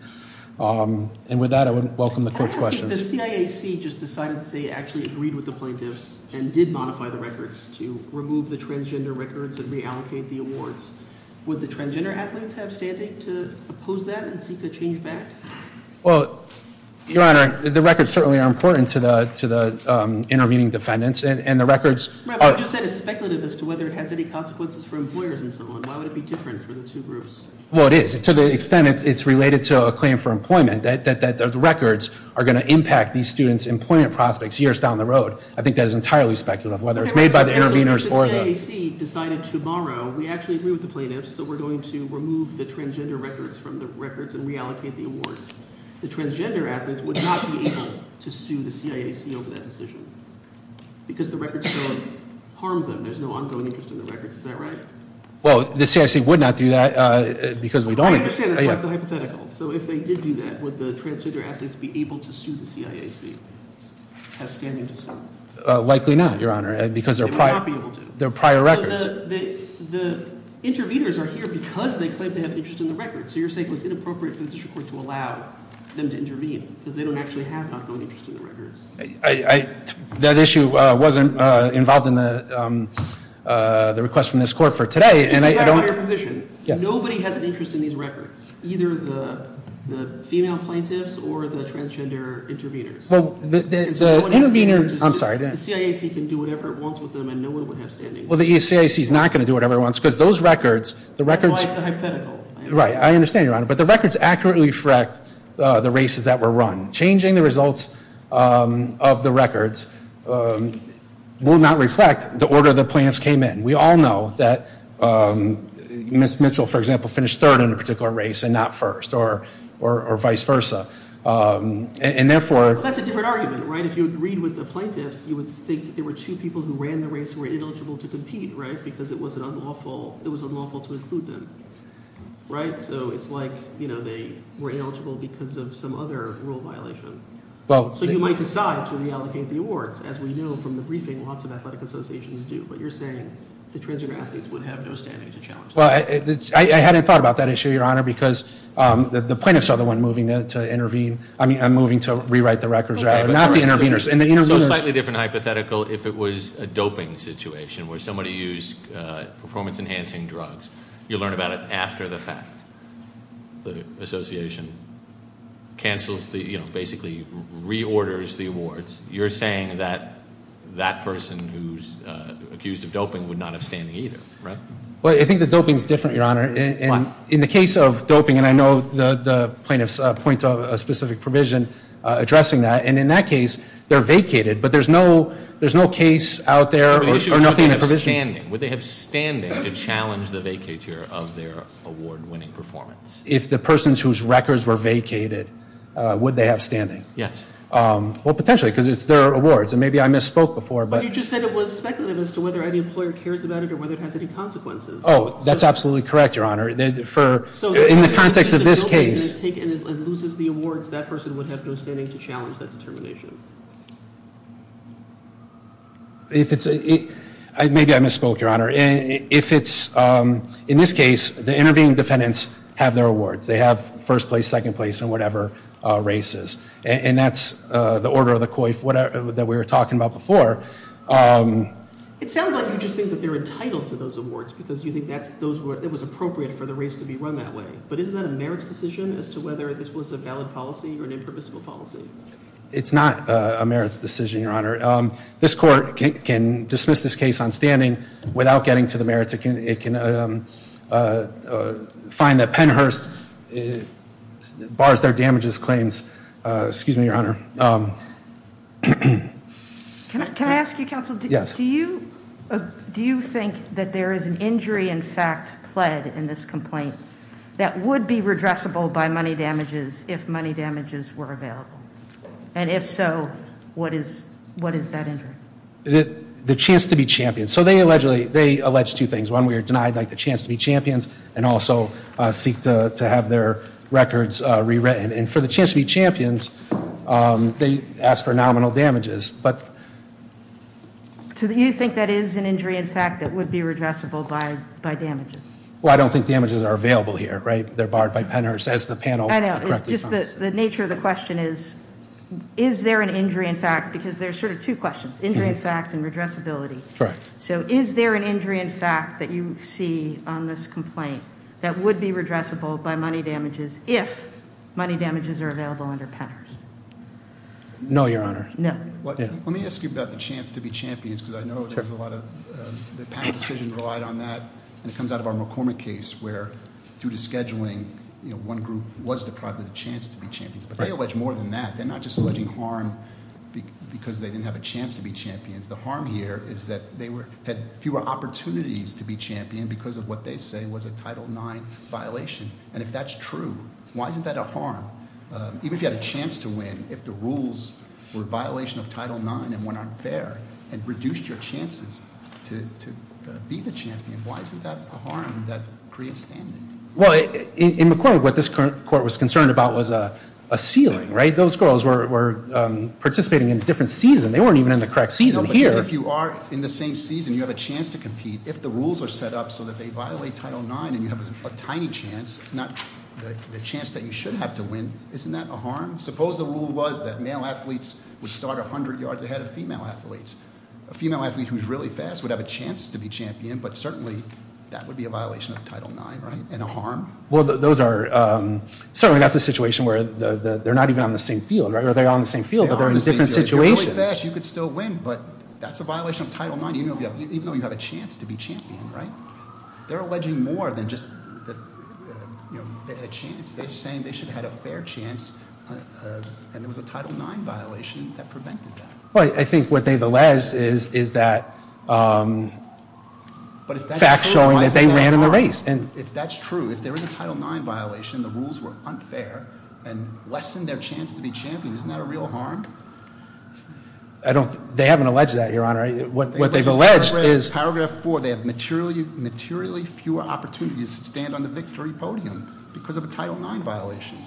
and with that, I would welcome the court's questions. The CIEC just decided that they actually agreed with the plaintiffs and did modify the records to remove the transgender records and reallocate the awards. Would the transgender applicants have standing to oppose that and seek a change back? Well, Your Honor, the records certainly are important to the intervening defendants and the records are... I just said it's speculative as to whether it has any consequences for employers and so on. Why would it be different for the two groups? Well, it is. To the extent it's related to a claim for employment, that those records are going to impact these students' employment prospects years down the road. I think that is entirely speculative, whether it's made by the interveners or the... If the CIEC decided tomorrow we actually agree with the plaintiffs that we're going to remove the transgender records from the records and reallocate the awards, the transgender applicants would not be able to sue the CIEC over that decision because the records don't harm them. There's no ongoing interest in the records. Is that right? Well, the CIEC would not do that because we don't... I understand that. That's a hypothetical. So if they did do that, would the transgender applicants be able to sue the CIEC and have standing to sue them? Likely no, Your Honor, because they're prior... They're not being able to. They're prior records. The interveners are here because they claim they have interest in the records. So you're saying it's inappropriate for the district court to allow them to intervene because they don't actually have ongoing interest in the records. That issue wasn't involved in the request from this court for today and I don't... You have a higher condition. Nobody has interest in these records, either the female plaintiffs or the transgender interveners. Well, the interveners... I'm sorry. The CIEC can do whatever it wants with them and no one will have standing. Well, the CIEC is not going to do whatever it wants because those records... It's a hypothetical. Right. I understand, Your Honor, but the records accurately reflect the races that were run. Changing the results of the records will not reflect the plaintiffs came in. We all know that Ms. Mitchell, for example, finished third in a particular race and not first or vice versa. And therefore... Let's assume it's a different argument. If you agree with the plaintiffs, you would think there were two people who ran the race who were ineligible to compete because it was unlawful to include them. So it's like they were ineligible because of some other rule violation. So you might decide to reallocate the awards as we know from the briefing lots of athletic associations do, but you're saying the transgender athletes would have no standing to challenge them. I hadn't thought about that issue, Your Honor, because the plaintiffs are the ones moving to intervene. I mean, I'm moving to rewrite the records, not the interveners. It's a slightly different hypothetical if it was a doping situation where somebody used performance-enhancing drugs. You learn about it after the fact. The association cancels the, you know, basically reorders the awards. You're saying that that person who's accused of doping would not have standing either, right? Well, I think the doping is different, Your Honor. And in the case of doping, and I know the plaintiffs point to a specific provision addressing that, and in that case they're vacated, but there's no case out there or nothing in the provision. Would they have standing to challenge the vacature of their award-winning performance? If the person whose records were vacated, would they have standing? Yes. Well, potentially, and maybe I misspoke before. You just said it was seconded as to whether any employer cared about it or whether it had any consequences. Oh, that's absolutely true. In the case of this case, if the doping is taken and loses the award, that person would have no standing to challenge that determination. If it's, maybe I misspoke, Your Honor. If it's, in this case, the intervening defendants have their awards. They have first place, second place, and whatever races. And that's the order of the COIF that we were talking about before. It sounds like you just think that they're entitled to those awards because you think it was appropriate for the race to be run that way. But isn't that a merits decision as to whether this was a valid policy or an impermissible policy? It's not a merits decision, Your Honor. This court can dismiss this case on standing without getting to the merits. It can find that Pennhurst bars their damages claims. Excuse me, Your Honor. Can I ask you, Counsel? Yes. Do you think that there is an injury, in fact, pled in this complaint that would be redressable by money damages if money damages were available? And if so, what is that injury? The chance to be champions. So they allegedly, they allege two things. One, we are denied the chance to be champions and also seek to have their records rewritten. And for the chance to be champions, they ask for nominal damages. Do you think that is an injury, in fact, that would be redressable by damages? Well, I don't think damages are available here. They are barred by Pennhurst. The nature of the question is, is there an injury, in fact, because there are two questions, injury, in fact, and that would be redressable by money damages if money damages are available under Pennhurst. No, your honor. Let me ask you about the chance to be champions because I know there is a lot of decisions relied on that. It comes out of our McCormick case where due to scheduling, one group was deprived of a chance to be champions. But they allege more than that. They are not just alleging harm because they didn't have a chance to be champions. The harm here is that they had fewer opportunities to be champions because of what they say was a Title IX violation. If that's true, why isn't that a harm? Even if you had a chance to win, if the rules were a violation of Title IX and weren't fair and reduced your chances to be the champion, why isn't that a harm? In McCormick, what this court was arguing Title IX was a ceiling. Those girls were participating in different seasons. They weren't even in the correct season. If you are in the same season and have a chance to compete, if the rules are set up to violate Title IX and have a chance to win, isn't that a harm? Suppose the rule was that male athletes would start 100 yards ahead of female athletes. A female athlete who is really fast would have a chance to be champion, but certainly that would be a violation of Title IX. And a harm? Those are certainly not the situation where they're not even on the same field. They're on the same field. They're in the same situation. I think what they've alleged is that facts show that they ran in the race. If that's true, if there is a Title IX violation, the rules were unfair and lessened their chance to be champion, isn't that a real harm? They haven't alleged that, Your Honor. What they've alleged is... Paragraph 4, they have materially fewer opportunities to stand on the victory podium because of a Title IX violation.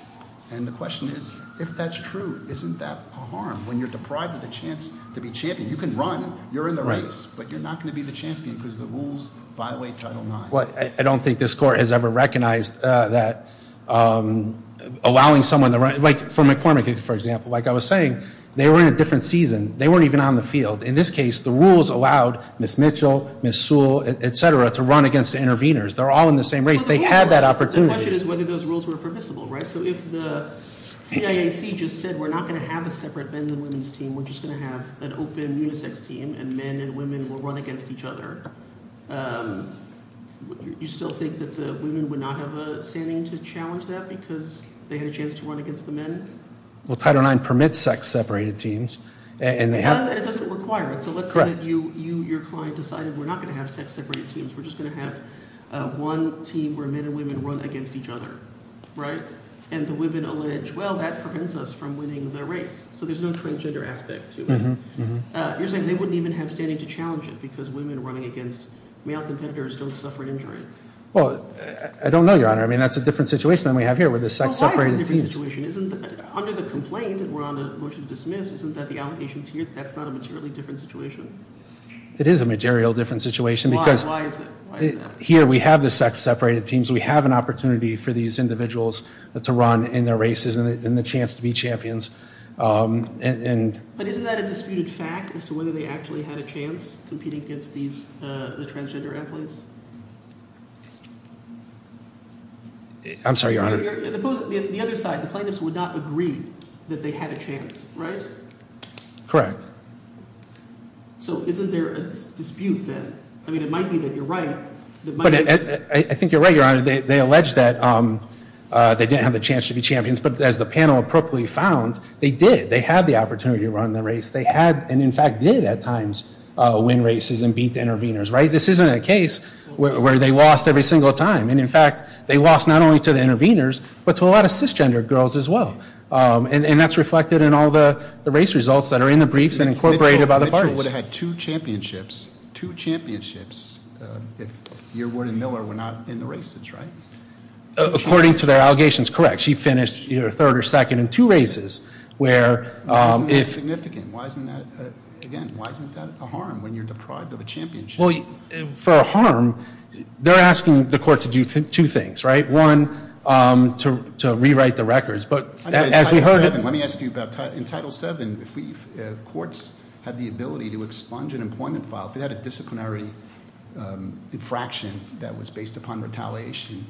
And the question is, if that's true, isn't that a harm? When you're deprived of the chance to be champion, you can run, you're in the race, but you're not going to be the champion because the rules violate Title IX. I don't think this Court has ever recognized that allowing someone to run... Like for McCormick, for example, like I was saying, they were in a different season. They weren't even on the field. In this case, the rules allowed Ms. Mitchell, Ms. Sewell, et cetera, to run against the intervenors. They're all in the same race. They had that opportunity. The question is whether those rules were permissible, right? So if the CAC just said we're not going to have a separate men and women's team, we're just going to have an open sex team and men and women will run against each other, you still think that the women would not have a standing to challenge that because they had a chance to run against the men? Title IX permits sex-separated teams. It doesn't require it. Your client decided we're not going to have sex-separated teams. We're just going to have one team where men and women will run against each I don't know, Your Honor. That's a different situation than we have here. It is a material different situation. Here we have the sex-separated teams. We have an opportunity for these individuals to run in their races and the chance to be champions. But isn't that a disputed fact as to whether they actually had a against these transgender athletes? I'm sorry, Your Honor. The other side, the plaintiffs would not agree that they had a chance, right? Correct. So isn't there a dispute then? It might be that you're right. I think you're right, Your Honor. They allege they didn't have a chance to be champions, but they did. They had the opportunity to run in the race. This isn't a case where they lost every single time. In fact, they lost not only to the intervenors, but to a lot of cisgender girls as well. That's reflected in all the race results that are in the briefs and incorporated by the parties. Two championships, if your word in Miller were not in the race, right? According to their allegations, correct. She finished third or second in two races. Why isn't that a harm when you're deprived of a championship? For a harm, they're asking the court to do two things. One, to rewrite the records. As we heard in Title VII, courts have the ability to expunge an employment file. Disciplinary infraction based upon retaliation.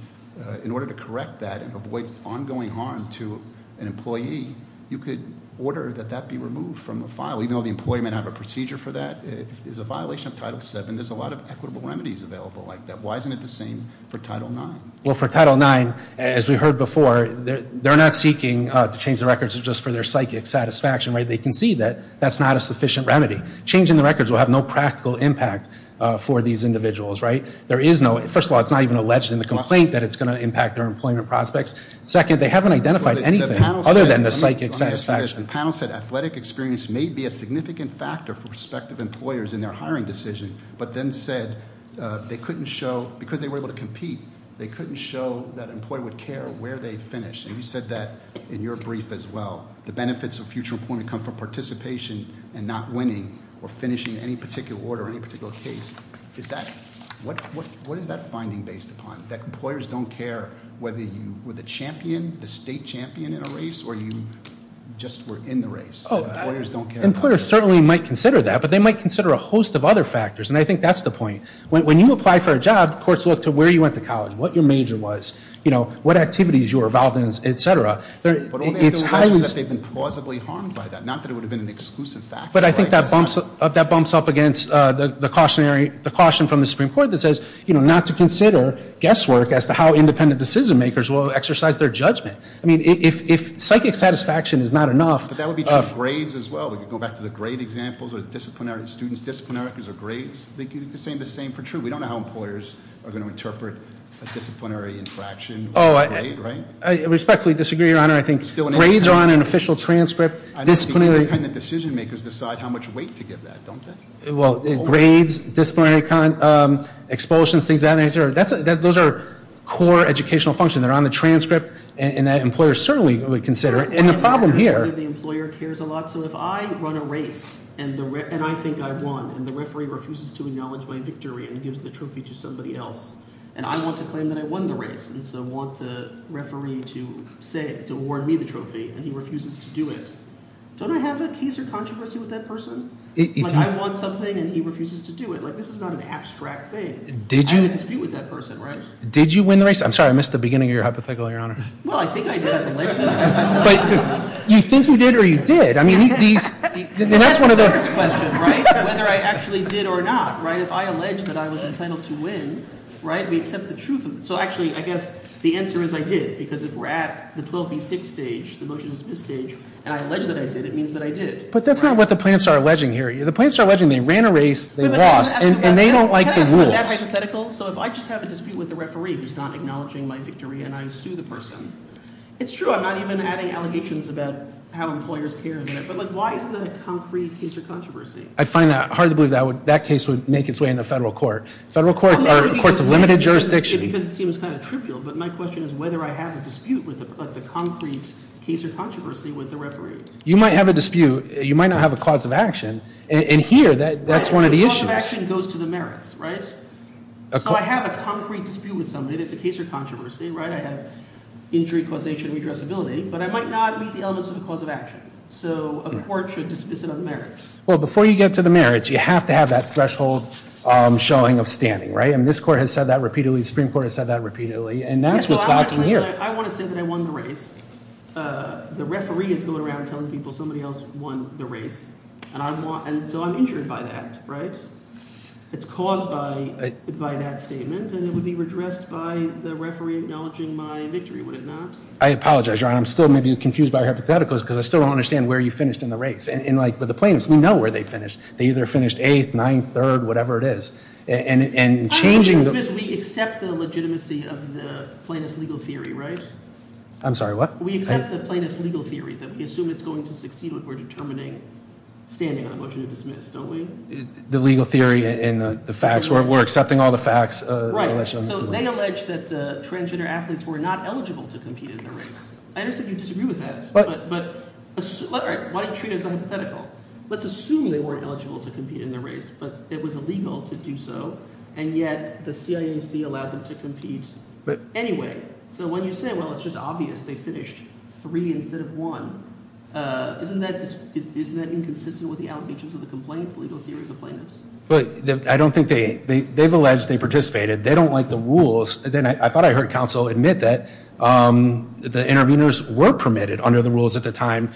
In order to correct that and avoid ongoing harm to an employee, you could order that be removed from the record. Why isn't it the same for Title IX? For Title IX, as we heard before, they're not seeking to change the records for their psychic satisfaction. Changing the records will have no practical impact for these individuals. First of all, it's not even alleged in the complaint that it's going to impact their employment prospects. Second, they haven't identified anything other than the psychic satisfaction. The panel said athletic experience may be a significant factor for prospective employers in their hiring decision, but then said they couldn't show that employee would care where they finished. You said that in your brief as well. The benefits of that is that employers may consider a host of other factors. When you apply for a job, where you went to college, what your major was, what activities you were involved in, et cetera. I think that bumps up against the caution from the Supreme Court that says not to consider the judgment of the employees. If psychic satisfaction is not enough... That would be grades as well. Disciplinary students. We don't know how employers will interpret disciplinary infraction. I respectfully disagree. Grades on an official transcript... Decision makers decide how much they should don't have to wait. Those are core educational functions. The problem here... If I run a race and I think I won and the referee refuses to acknowledge my victory and I want to claim I won the race and he refuses to do it, don't I have that piece of controversy with that person? I want something and he refuses to do it. This is not an abstract thing. Did you win the race? I missed the beginning of your hypothetical. You think you did or you did. Whether I actually did or not. If I alleged I was entitled to win... The answer is I did. If we are at the stage, it means I did. If I have a dispute with the referee who is not acknowledging my victory and I sue the person. It's true. I'm not adding allegations. Why is that a case of controversy? I find it hard to believe that case would make its way into federal court. My question is whether I have a dispute. You might not have a cause of action. Here, that's one of the issues. I have a dispute with somebody. I might not be the cause of action. Before you get to the merits, you have to have that threshold showing up standing. This court has said that repeatedly. I want to say I won the race. The referee is telling people somebody else won the race. I'm injured by that. It's caused by that statement. I apologize. I'm still confused by that. I understand where you finished in the race. We know where they finished. They finished 8th, 9th, 3rd, whatever it is. We accept the legitimacy of the plaintiff's legal theory. We assume it's going to succeed. The legal theory and the facts where we're accepting all the facts. They allege that the transgender athletes were not eligible to compete in the race. I disagree with that. Let's assume they weren't eligible to compete in the race. It was illegal to do so. It's obvious they finished three instead of one. Isn't that true? They don't like the rules. I thought I heard counsel admit that the interviewers were permitted to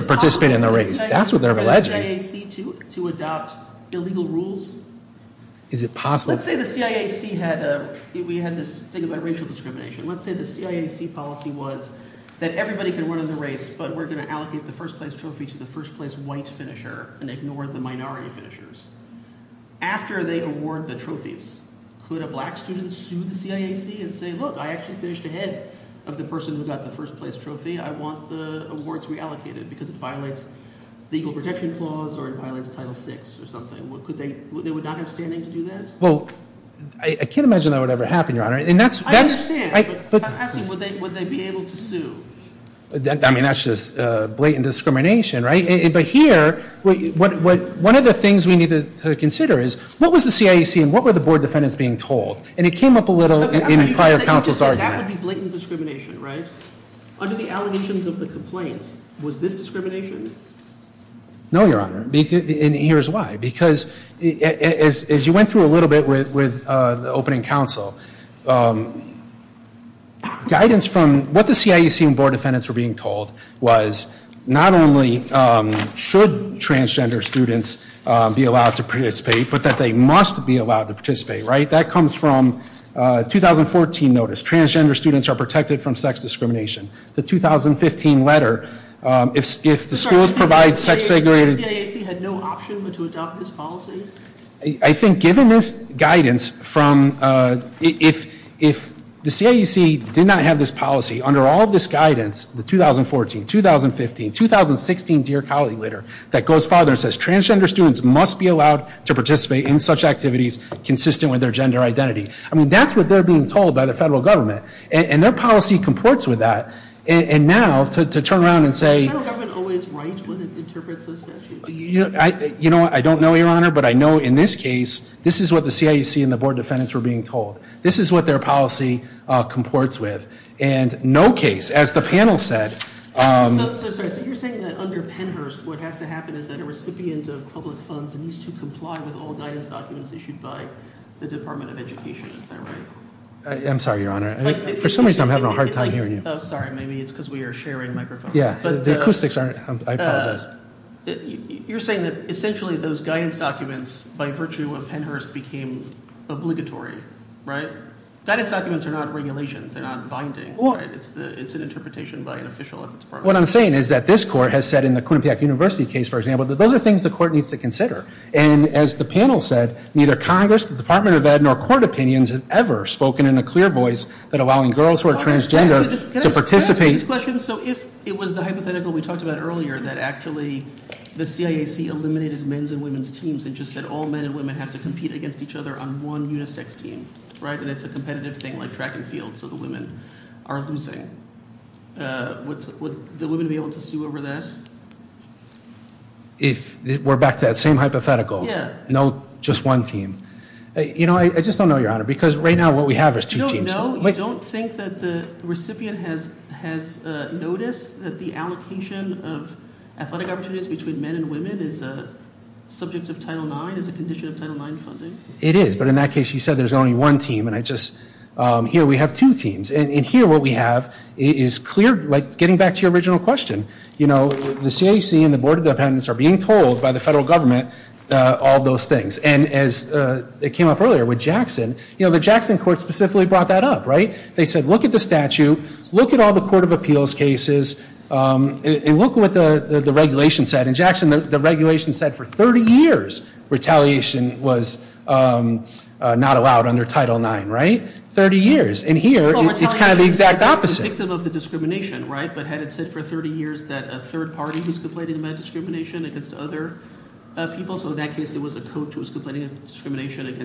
participate in the race. That's what they're alleging. Let's say the CIAC policy was that everybody could win in the race but we're going to allocate the first place trophy to the first place white finisher. After they award the trophies, could a black student sue the CIAC and say look, I finished ahead of the person who got the first place trophy. I want the awards reallocated. They would not have standing to do that? I can't imagine that would ever happen. I understand. But would they be able to sue? That's just blatant discrimination. Here, one of the things we need to consider is what was the CIAC and what were the board defendants being told. Under the allegations of the complaint, was this discrimination? No, Your Honor. Here's why. Because as you went through a little bit with the opening counsel, guidance from what the board defendants were being told was not only should transgender students be allowed to participate, but they must be allowed to participate. That comes from 2014 notice. Transgender students are not participate in such activities. I think given this guidance, if the CIAC did not have this policy, under all of this guidance, 2014, 2015, 2016, that goes farther and says transgender students must be allowed to participate in such activities consistent with their policy. I don't know, Your Honor, but I know in this case, this is what the CIAC and the board defendants were being told. This is what their policy comports with. No case. As the panel said. I'm sorry, Your Honor. For some reason I'm having a hard time hearing you. You're saying essentially those guidance documents became obligatory. That is not regulations. It is an interpretation. What I'm saying is this court said in the university case, those are things the court needs to consider. As the panel said, neither the board has a right to participate. If it was the hypothetical we talked about earlier, the CIAC eliminated men's and women's teams and said all men and women have to compete against each other on one team. Would the women be able to sue over that? We're back to the same hypothetical. I just don't know because right now what we have is two teams. You don't think the recipient has noticed that the allocation of athletic opportunities between men and women is a condition of Title IX funding? It is. In that case you said there's only one team. Here we have two teams. Here what we have is getting back to your original question. The CIAC and the board are being told by the federal government all those things. The Jackson court brought that up. They said look at the statute, look at all the court of appeals cases and look at what the regulation said. The regulation said for 30 years retaliation was not allowed under Title IX. 30 years. Here it's the exact opposite. The court said because we know as other people, it was clear that retaliation was prohibited.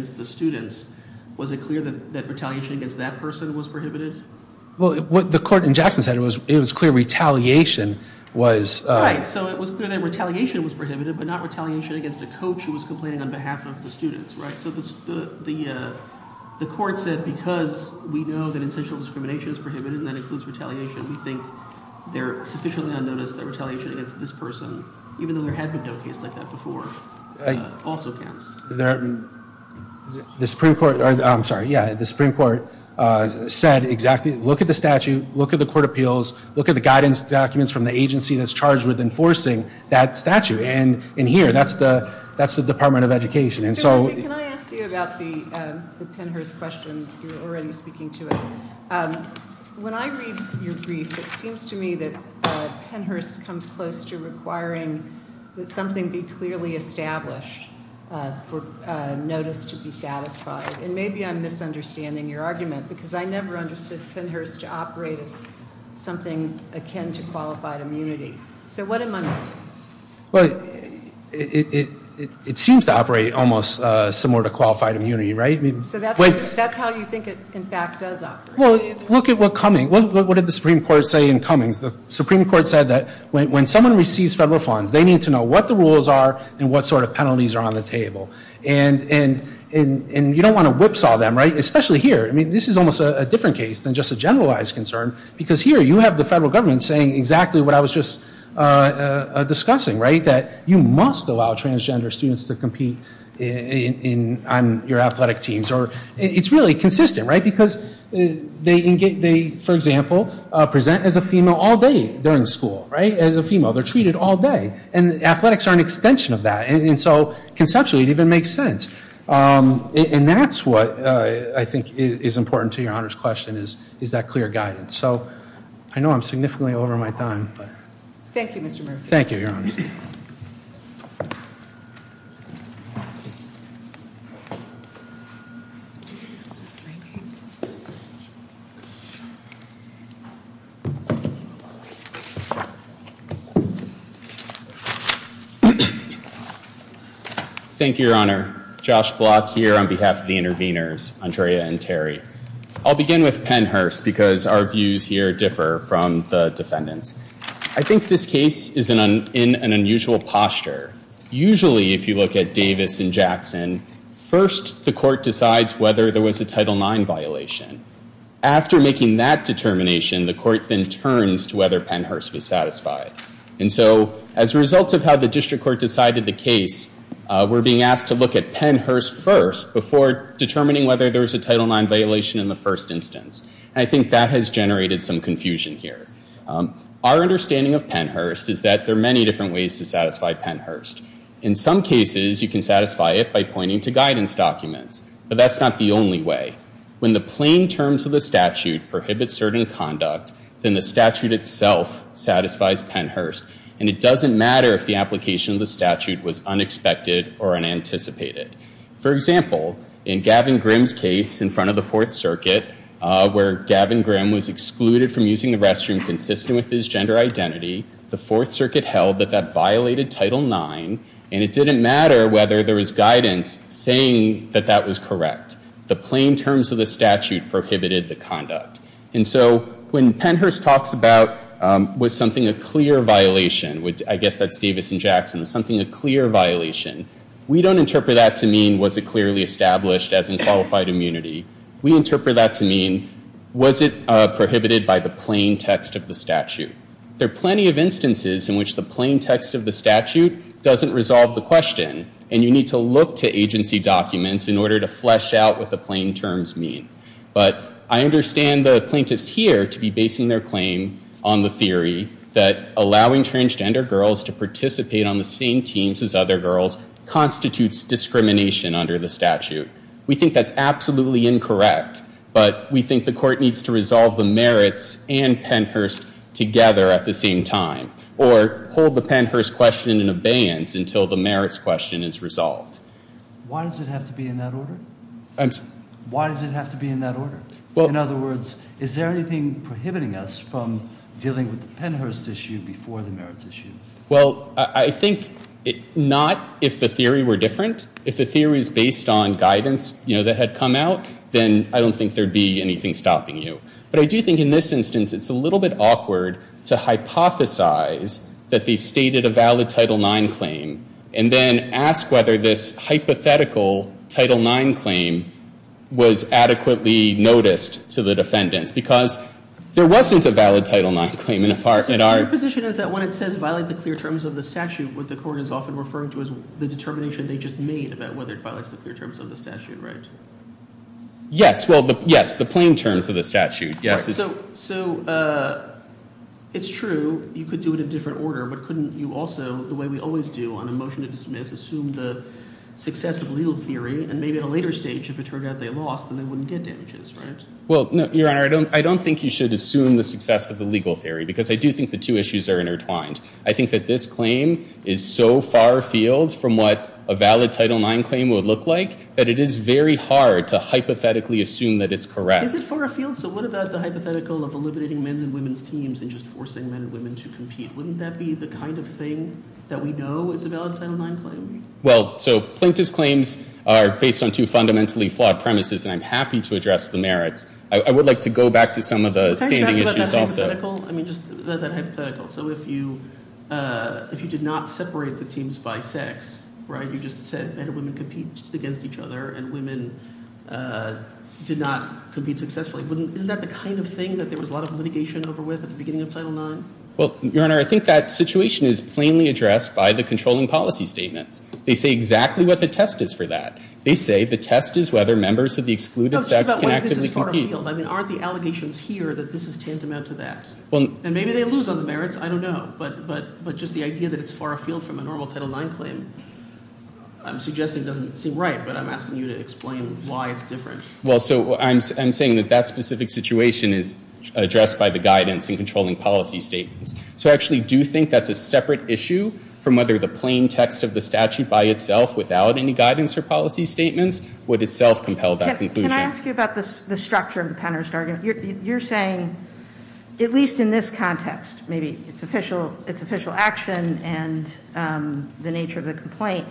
It was clear that retaliation was prohibited but not retaliation against a person. The Supreme Court said look at the statute, look at the court of appeals, look at the guidance from the agency that's charged with enforcing that statute. That's the Department of Education. Can I ask you about the question, you're speaking to it. When I read your brief, it seems to me thing something clearly established for notice to be satisfied. Maybe I'm misunderstanding your argument because I never understood to operate as something akin to qualified immunity. What am I missing? It seems to operate similar to qualified immunity. That's how you think it does operate. Look at what the Supreme in coming. When someone receives federal funds, they need to know what the rules are and what penalties are on the table. You don't want to get in the that. It's consistent. It's consistent. For example, they present as a female all day during school. They're treated all day. Athletics are an extension of that. Conceptually, it makes sense. That's what is important to your question. I know I'm significantly over my time. Thank you. Thank you, your honor. Thank you, behalf of the interveners, Andrea and Terry. I'll begin with the first question. The first question is, is there a this case? I'm going to start with Pennhurst. I think this case is in an unusual posture. Usually, if you look at Davis and Jackson, first the court decides whether there was a Title IX violation. After making that determination, the court turns to whether Pennhurst was satisfied. As a result, we're being asked to look at Pennhurst first. I think that has generated some confusion here. Our understanding of Pennhurst is that there are many where the plain terms of the statute prohibit certain conduct. It doesn't matter if the application of the statute was unexpected or unanticipated. For example, in Gavin Grimm's case, the fourth circuit trial, the plain terms of the statute prohibited the conduct. When Pennhurst talks about something as a clear violation, we don't interpret that to mean was it clearly established as unqualified immunity. We interpret that to mean was it prohibited by the plain text of the statute. There are plenty of instances where the plain text of the statute doesn't resolve the question. I understand the plaintiffs to be basing their claim on the theory that allowing transgender girls to participate on the same teams as other girls constitutes discrimination under the statute. We think that's absolutely incorrect, but we think the court needs to resolve the merits and Pennhurst together at the same time. We think the court needs to hold the Pennhurst question in abeyance until the merits question is resolved. Why does it have to be in that order? Is there anything prohibiting us from dealing with the Pennhurst issue before the merits issue? Well, I think not if the theory were different. If the theory was based on guidance, I don't think there would be anything stopping you. In this instance, it's a little awkward to hypothesize that they stated a valid title 9 claim and then ask whether this is to that. If you did not separate the teams by sex, you just said men and women compete against each other and women did not compete successfully, isn't that the kind of thing there was a lot of litigation over with? I think that situation is plainly false. They say exactly what the test is for that. Aren't the allegations here that this is tantamount to that? I don't know. The idea that it's far afield from a normal title 9 claim doesn't seem right. I'm saying that that specific situation is far afield from a normal title 9 claim. I do think that is a separate issue from whether the plain text of the statute by itself would itself compel that conclusion. You are saying at least in this context it's official action and the nature of the complaint,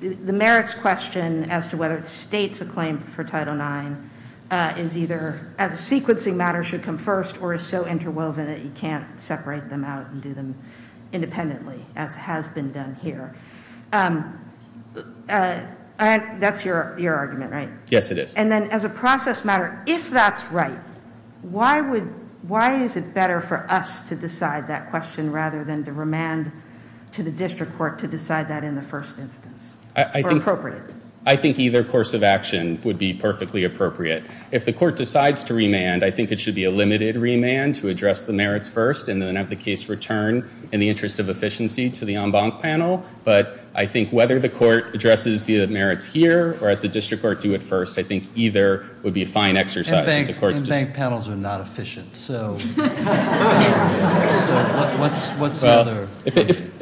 the merits question as to whether the state claims for title 9 should come first or is so interwoven you can't separate them out and do them independently as has been done here. That's your argument, right? Yes, it is. As a process matter, if that's right, why is it better for us to do it I think either course of action would be perfectly appropriate. If the court decides to remand, I think it should be a limited remand to address the merits first and then have the case returned in the interest of efficiency to the panel. But I think whether the court addresses the merits here or the district court do it first, I think either would be a fine exercise.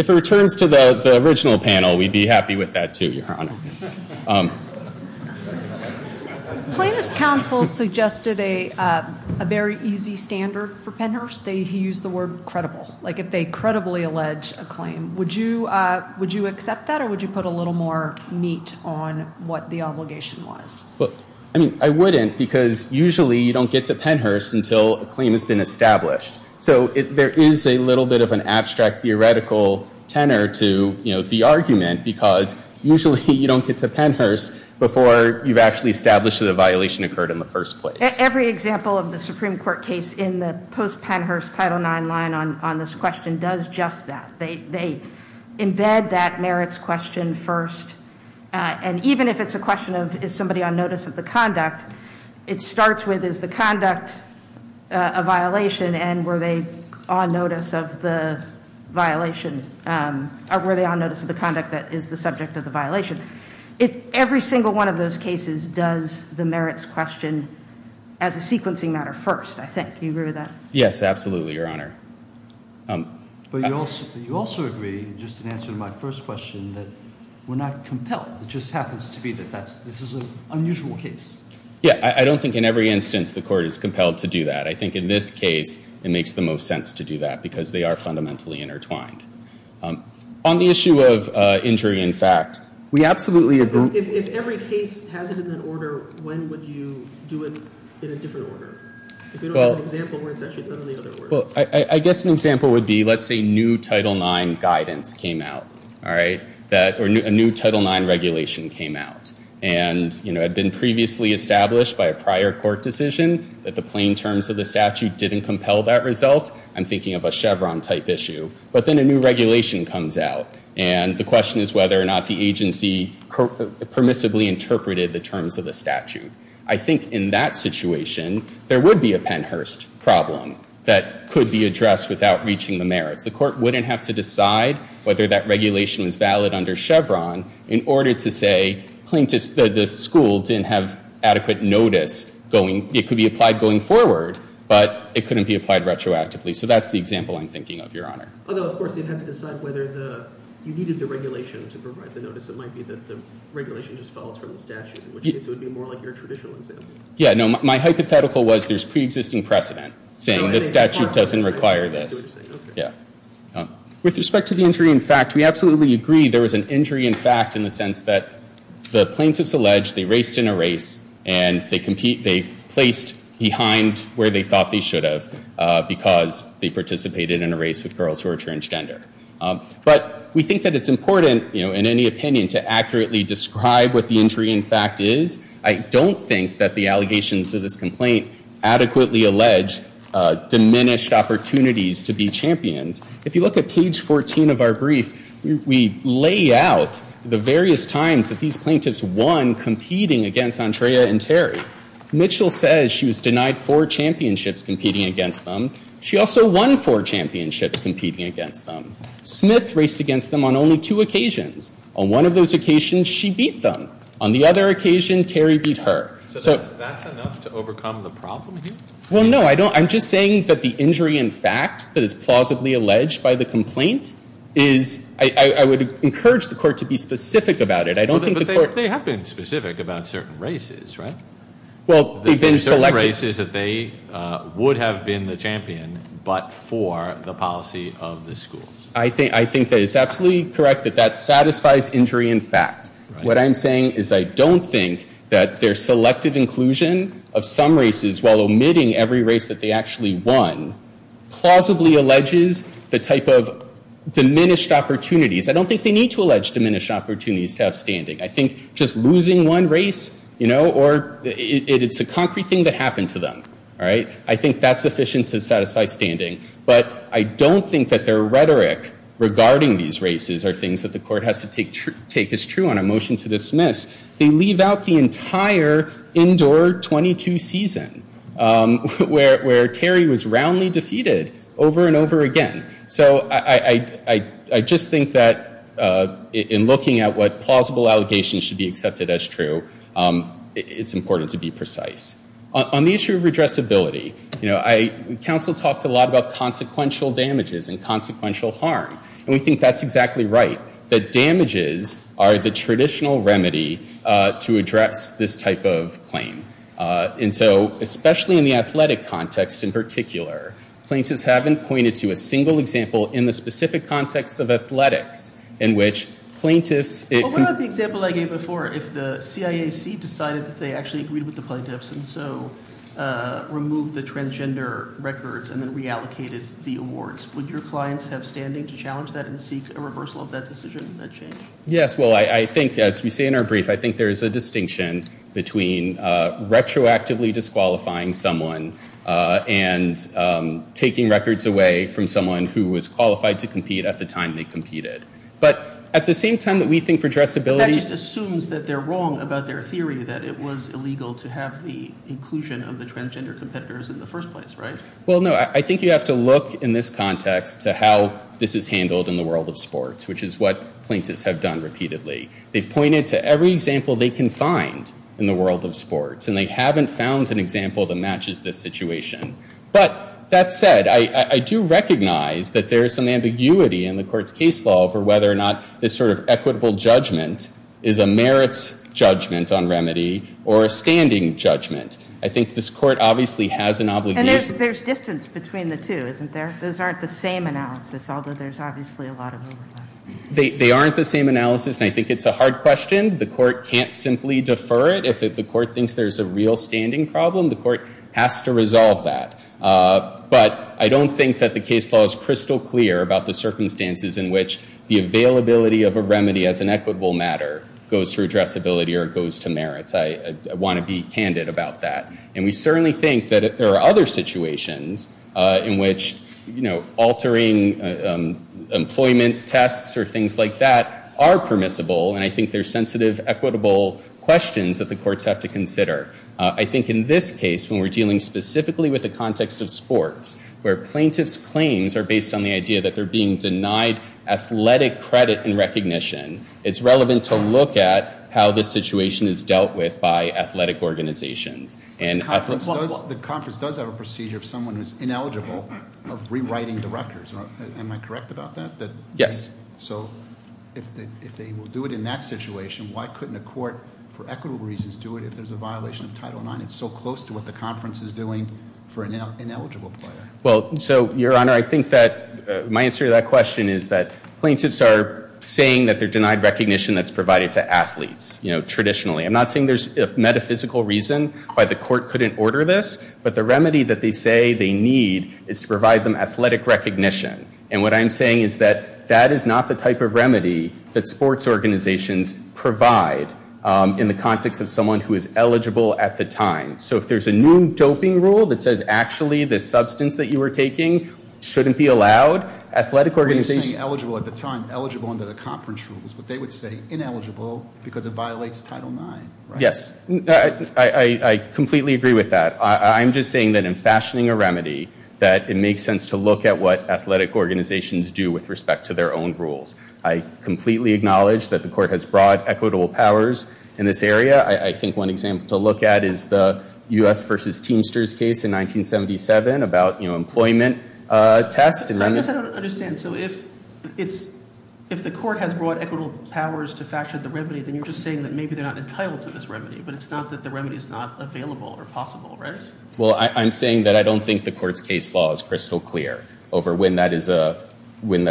If it returns to the original panel, we'd be happy with that too. Plaintiffs counsel suggested a very easy standard for penhurst. They use the word credible. If they credibly allege a claim, would you accept that or would you put a little more meat on what the obligation was? I wouldn't because usually you don't get to penhurst until a claim has been established. There is an abstract theoretical tenor to the argument because usually you don't get to penhurst before you establish that a violation occurred in the first place. Every example of the Supreme Court case does just that. They embed that merits question first and even if it's a question of is somebody on notice of the conduct, it starts with is the conduct a violation and were they on notice of the conduct that is the question of the merits question as a sequencing matter first. Can you agree with that? You also agree that we are not compelled. This is an unusual case. I don't think in every instance the court is compelled to do that. On the issue of injury in fact, we absolutely agree. I guess an example would be let's say new title 9 guidance came out. A new title 9 regulation came out. It had been previously established by a prior court decision. I'm thinking of a Chevron type issue. A new regulation comes out. The question is whether or not the agency permissibly interpreted the terms of the statute. I think in that situation there would be a Pennhurst problem. The court would not have to decide whether that regulation is valid under Chevron in order to say that the school did not have adequate notice. It could be applied going forward but not retroactively. That is the example I'm thinking of. My hypothetical was there is pre-existing precedent. The statute does not require that. With respect to the injury in fact, we agree there was an injury in fact in the sense that they raced in a race and they placed behind where they thought they should have because they participated in a race. We think it is important to accurately describe what the injury in fact is. I don't think the allegations of this complaint adequately allege diminished opportunities to be champions. If you look at page 14 of our brief, we lay out the various times they won against Andrea and Terry. Mitchell said she was denied four championships competing against them. She also won four championships competing against them. Smith raced against them on two occasions. On one occasion she beat them. On the other occasion Terry beat her. I would encourage the court to be specific about it. They have been specific about certain races. They would have been the champion but for the policy of the schools. I think it is correct that that satisfies injury in fact. I don't think their selective inclusion of some races while omitting every race they won allegedly the type of diminished opportunities. I think just losing one race is a concrete thing that happened to them. I don't think their rhetoric regarding these races are things the court has to take as true. They leave out the entire indoor 22 season where Terry was defeated over and over again. I just think that in looking at what plausible allegations should be accepted as true, it is important to be precise. Council talked a lot about consequential damages and consequential harm. We think that is right. Damages are the traditional remedy to the it is important to be precise. Plaintiffs haven't pointed to a single example in the specific context of athletics. What about the example I gave before? If the CIAC decided they agreed with the plaintiffs and removed the records and reallocated the awards, would your clients have standing to challenge that? I think there is a distinction between retroactively disqualifying someone and taking records away from someone who was qualified to compete at the time they competed. At the same time, we think addressability assumes they are wrong about the inclusion of the transgender competitors. I think you have to look at how this is handled in the world of sports. They pointed to every example they can find in the world of sports. They haven't found an example that matches this situation. I do recognize there is ambiguity in the court's case law for whether this equitable judgment is a merit judgment or a standing judgment. There is distance between the two. They are not the same analysis. I think it is a hard question. The court has to resolve that. I don't think the case law is crystal clear about the circumstances in which the availability of a remedy goes to merit. I want to be candid about that. We think there are other situations in which altering employment tests are permissible. I think there are sensitive questions that the courts have to consider. In this case, we are dealing with the context of sports where plaintiffs are being denied recognition. It is relevant to look at how the situation is dealt with. The conference has a procedure for rewriting directors. Am I correct? If they will do it in that situation, why couldn't the court do it for equitable reasons? My answer to that question is that plaintiffs are saying they are denied recognition for organizations. I am not saying there is a metaphysical reason, but the remedy they need is athletic recognition. That is not the type of remedy that sports organizations provide in the context of someone who is eligible at the time. If there is a new doping rule that says actually the substance shouldn't be allowed. They would say ineligible because it violates Title IX. I completely agree with that. In fashioning a remedy, it makes sense to look at what athletic organizations do. I completely acknowledge that the court has brought equitable powers in this area. One example is the U.S. versus Teamsters case in 1977. If the court has brought equitable powers, you are saying they are not entitled to this remedy. I don't think the court's position is crystal clear. Over when that is a question.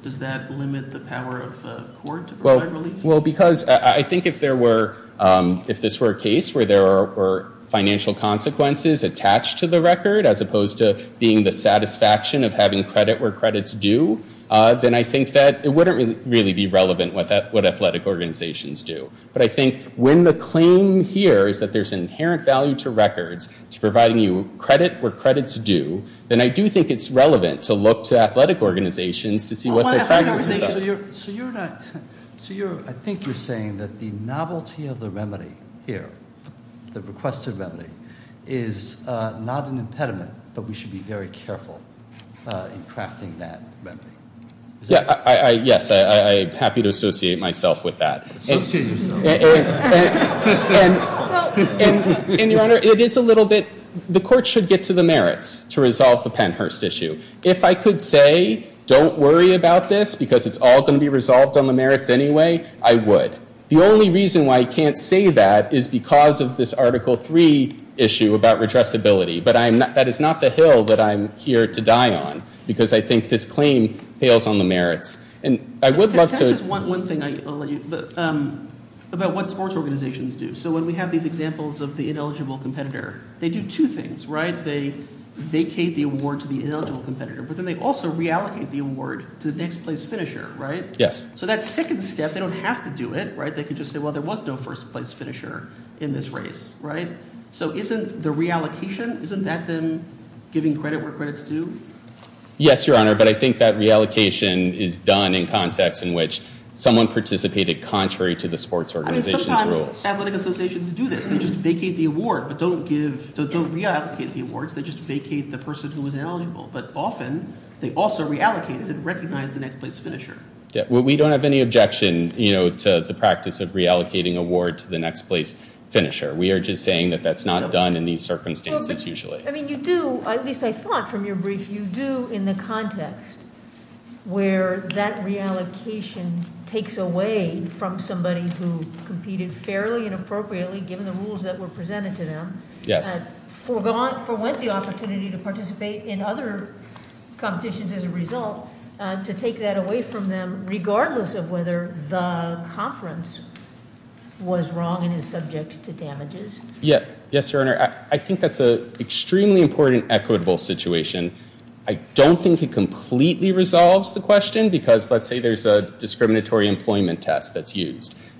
Does that limit the power of the court? I think if this were a case where there were financial consequences attached to the record as opposed to the satisfaction of having credit where credit is due, it wouldn't be relevant. wouldn't be relevant to what athletic organizations do. When the claim here is there is an inherent value to records, I think it is relevant to look at athletic organizations. I think you are saying the novelty of the remedy here is not an impediment, but we should be very careful in crafting that. I am happy to associate myself with that. Your Honor, the court should get to the merits to resolve the issue. If I could say don't worry about this because it will be resolved on the merits anyway, I would. The only reason I can't say that is because of this article three issue about redressability. That is not the hill I am here to die on. I think this claim fails on the merits. I would like to say one thing about what sports organizations do. When we have examples of the ineligible competitor, they do two things. They allocate the next place finisher. Isn't the reallocation giving credit where credit is due? Yes, but I think that reallocation is done in context in which someone participated contrary to the sports organization. We don't have any objection to the practice of reallocating awards. We are just saying that is not done in these circumstances. You do in the context where that reallocation takes away from somebody who competed fairly and appropriately given the rules that were presented to them for the opportunity to participate in other competitions as a result of that reallocation. have any objection to that at all. To take that away from them regardless of whether the conference was wrong and is subject to damages. I think that is an extremely important situation. I don't think it completely resolves the question. I don't resolves the question because let's say there is a discriminatory employment test.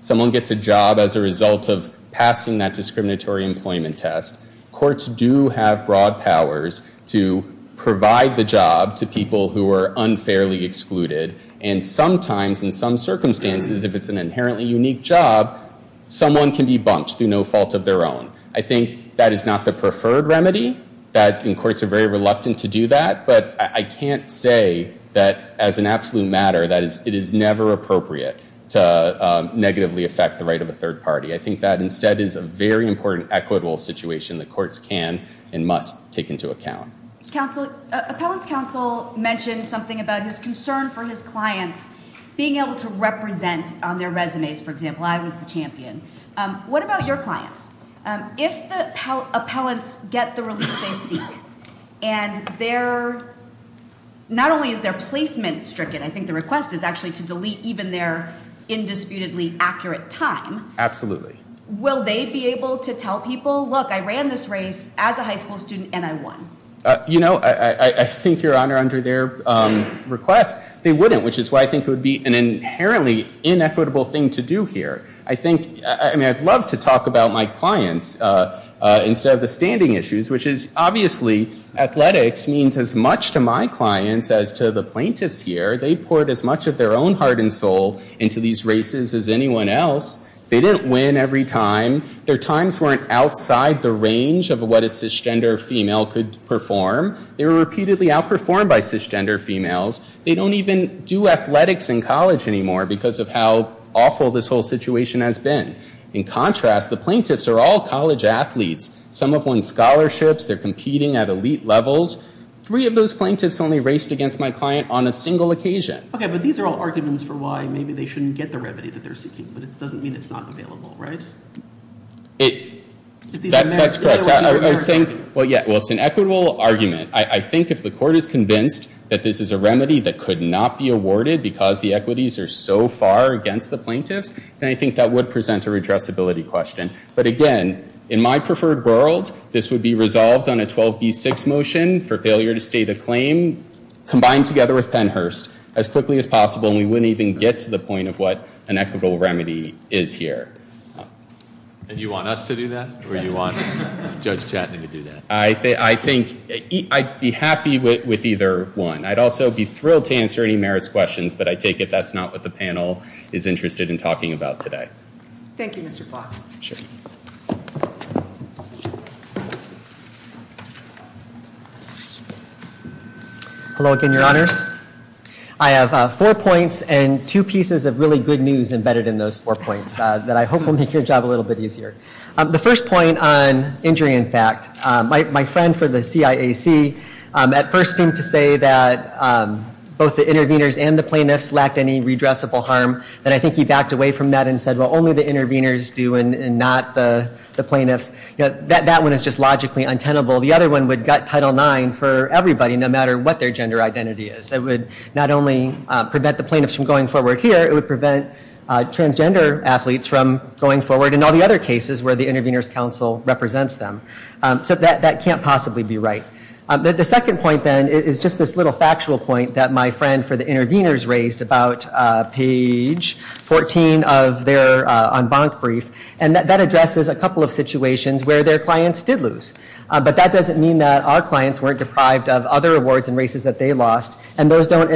Someone gets a job as a result of passing that discriminatory employment test. Courts do have broad powers to provide the job to people who are unfairly excluded. Sometimes in some circumstances if it is an inherently unique job someone can be bumped. I think that is not the preferred remedy. say that as an absolute matter it is never appropriate to negatively affect the right of a third party. I think that is not the right thing to do. If the appellants get the release they seek and not only is their placement stricken, I think the request is to delete their indisputably accurate time, will they be able to tell people I ran this race as a high school student and I won? I think your Honor under their request they wouldn't which is why I think it would be an inherently inequitable thing to do here. I would love to talk about my clients instead of the standing issues. Athletics means as much to my clients as to their own heart and soul. They didn't win every time. Their times were not outside the range of what a cisgender female could perform. They don't do athletics in college anymore because of how awful this whole situation has been. In contrast the plaintiffs are all college athletes. Some have won scholarships. They're competing at elite levels. Three of those plaintiffs only raced against my client on a single occasion. It's an equitable argument. I think if the court is convinced this is a remedy that could not be awarded because the equities are so far against the plaintiffs I think that would present a question. In my preferred world this would be resolved on a 12B6 motion combined together as quickly as possible. We wouldn't get to the point of what an equitable remedy is here. I think I'd be happy with either one. I'd also be thrilled to answer any merits questions but I take it that's not what the panel is interested in talking about today. Hello, again, your honor. I have four points and two pieces of really good news embedded in those four points that I hope will make your job easier. The first point on injury in fact, my friend at first seemed to say that both the intervenors and the plaintiffs lacked any redressable harm. That one is logically untenable. The other would gut Title IX for everybody. It would not only prevent the plaintiffs from going forward here, it would prevent transgender athletes from going forward. That can't possibly be right. The second point is this little factual point that my friend for the intervenors raised about page 14 of their brief. That addresses a couple of situations where their clients did lose. That doesn't mean our clients weren't deprived of other awards and races they lost. Those are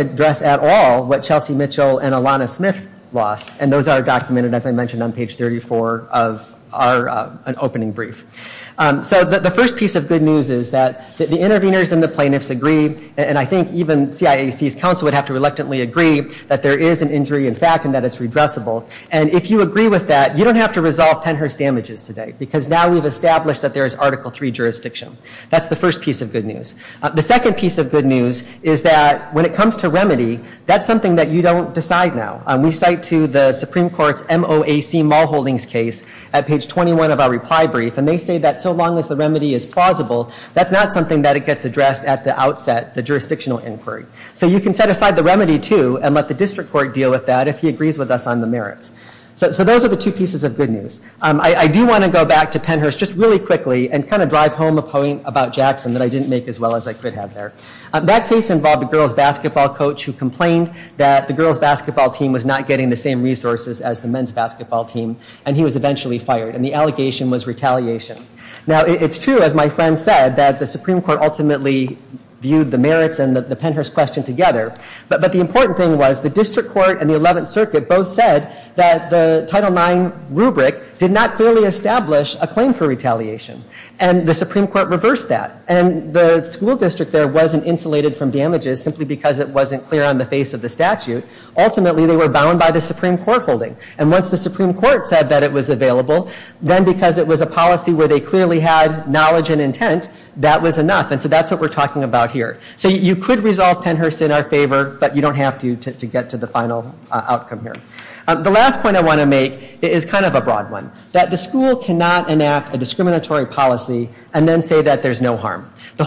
documented on page 34 of our opening brief. The first piece of good news is that the intervenors and the plaintiffs agreed that there is an injury and that it's redressable. You don't have to resolve 10 hertz damages today. That's the first piece of good news. The second piece of good news is that when it comes to remedy, that's something you don't decide now. We cite the Supreme Court case at page 21 of our reply brief. That's not something that gets addressed at the outset. You can set aside the remedy too. Those are the two pieces of good news. I want to drive home a point about Jackson I didn't make. That case involved a girls basketball coach who complained that the girls basketball team was not getting the same resources. The allegation was retaliation. The Supreme Court ultimately viewed the merits together. The district court and the 11th circuit said that the title IX rubric did not establish a claim for retaliation. The Supreme Court reversed that. The school district wasn't insulated from damages. Ultimately they were bound by the Supreme Court holding. Once the Supreme Court said it was available, that was enough. You could resolve it in our favor, but you don't have to get to the final outcome. The last point I want to make is that the school cannot enact a discriminatory policy and say that there is no harm. I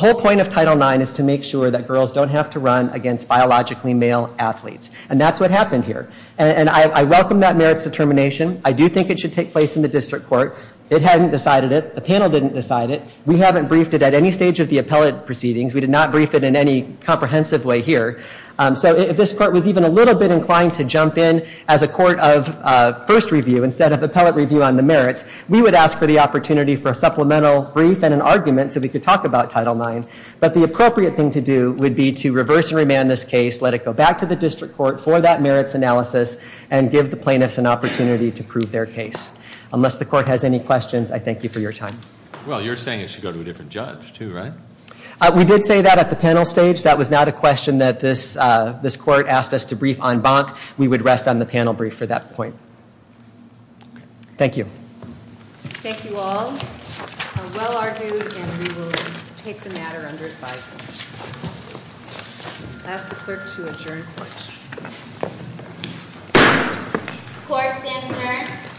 welcome that determination. I do think it should take place in the district court. The panel didn't decide it. We haven't briefed it at any stage. This court was inclined to jump in as a court of first review instead of appellate review. We would ask for an argument so we could talk about it. I thank you for your time. We did say that at the panel stage. That was not a question that this court asked us to brief. We would rest on the panel brief. Thank you. Thank you all. We will take the matter under advice. I ask the clerk to adjourn. The clerk has adjourned.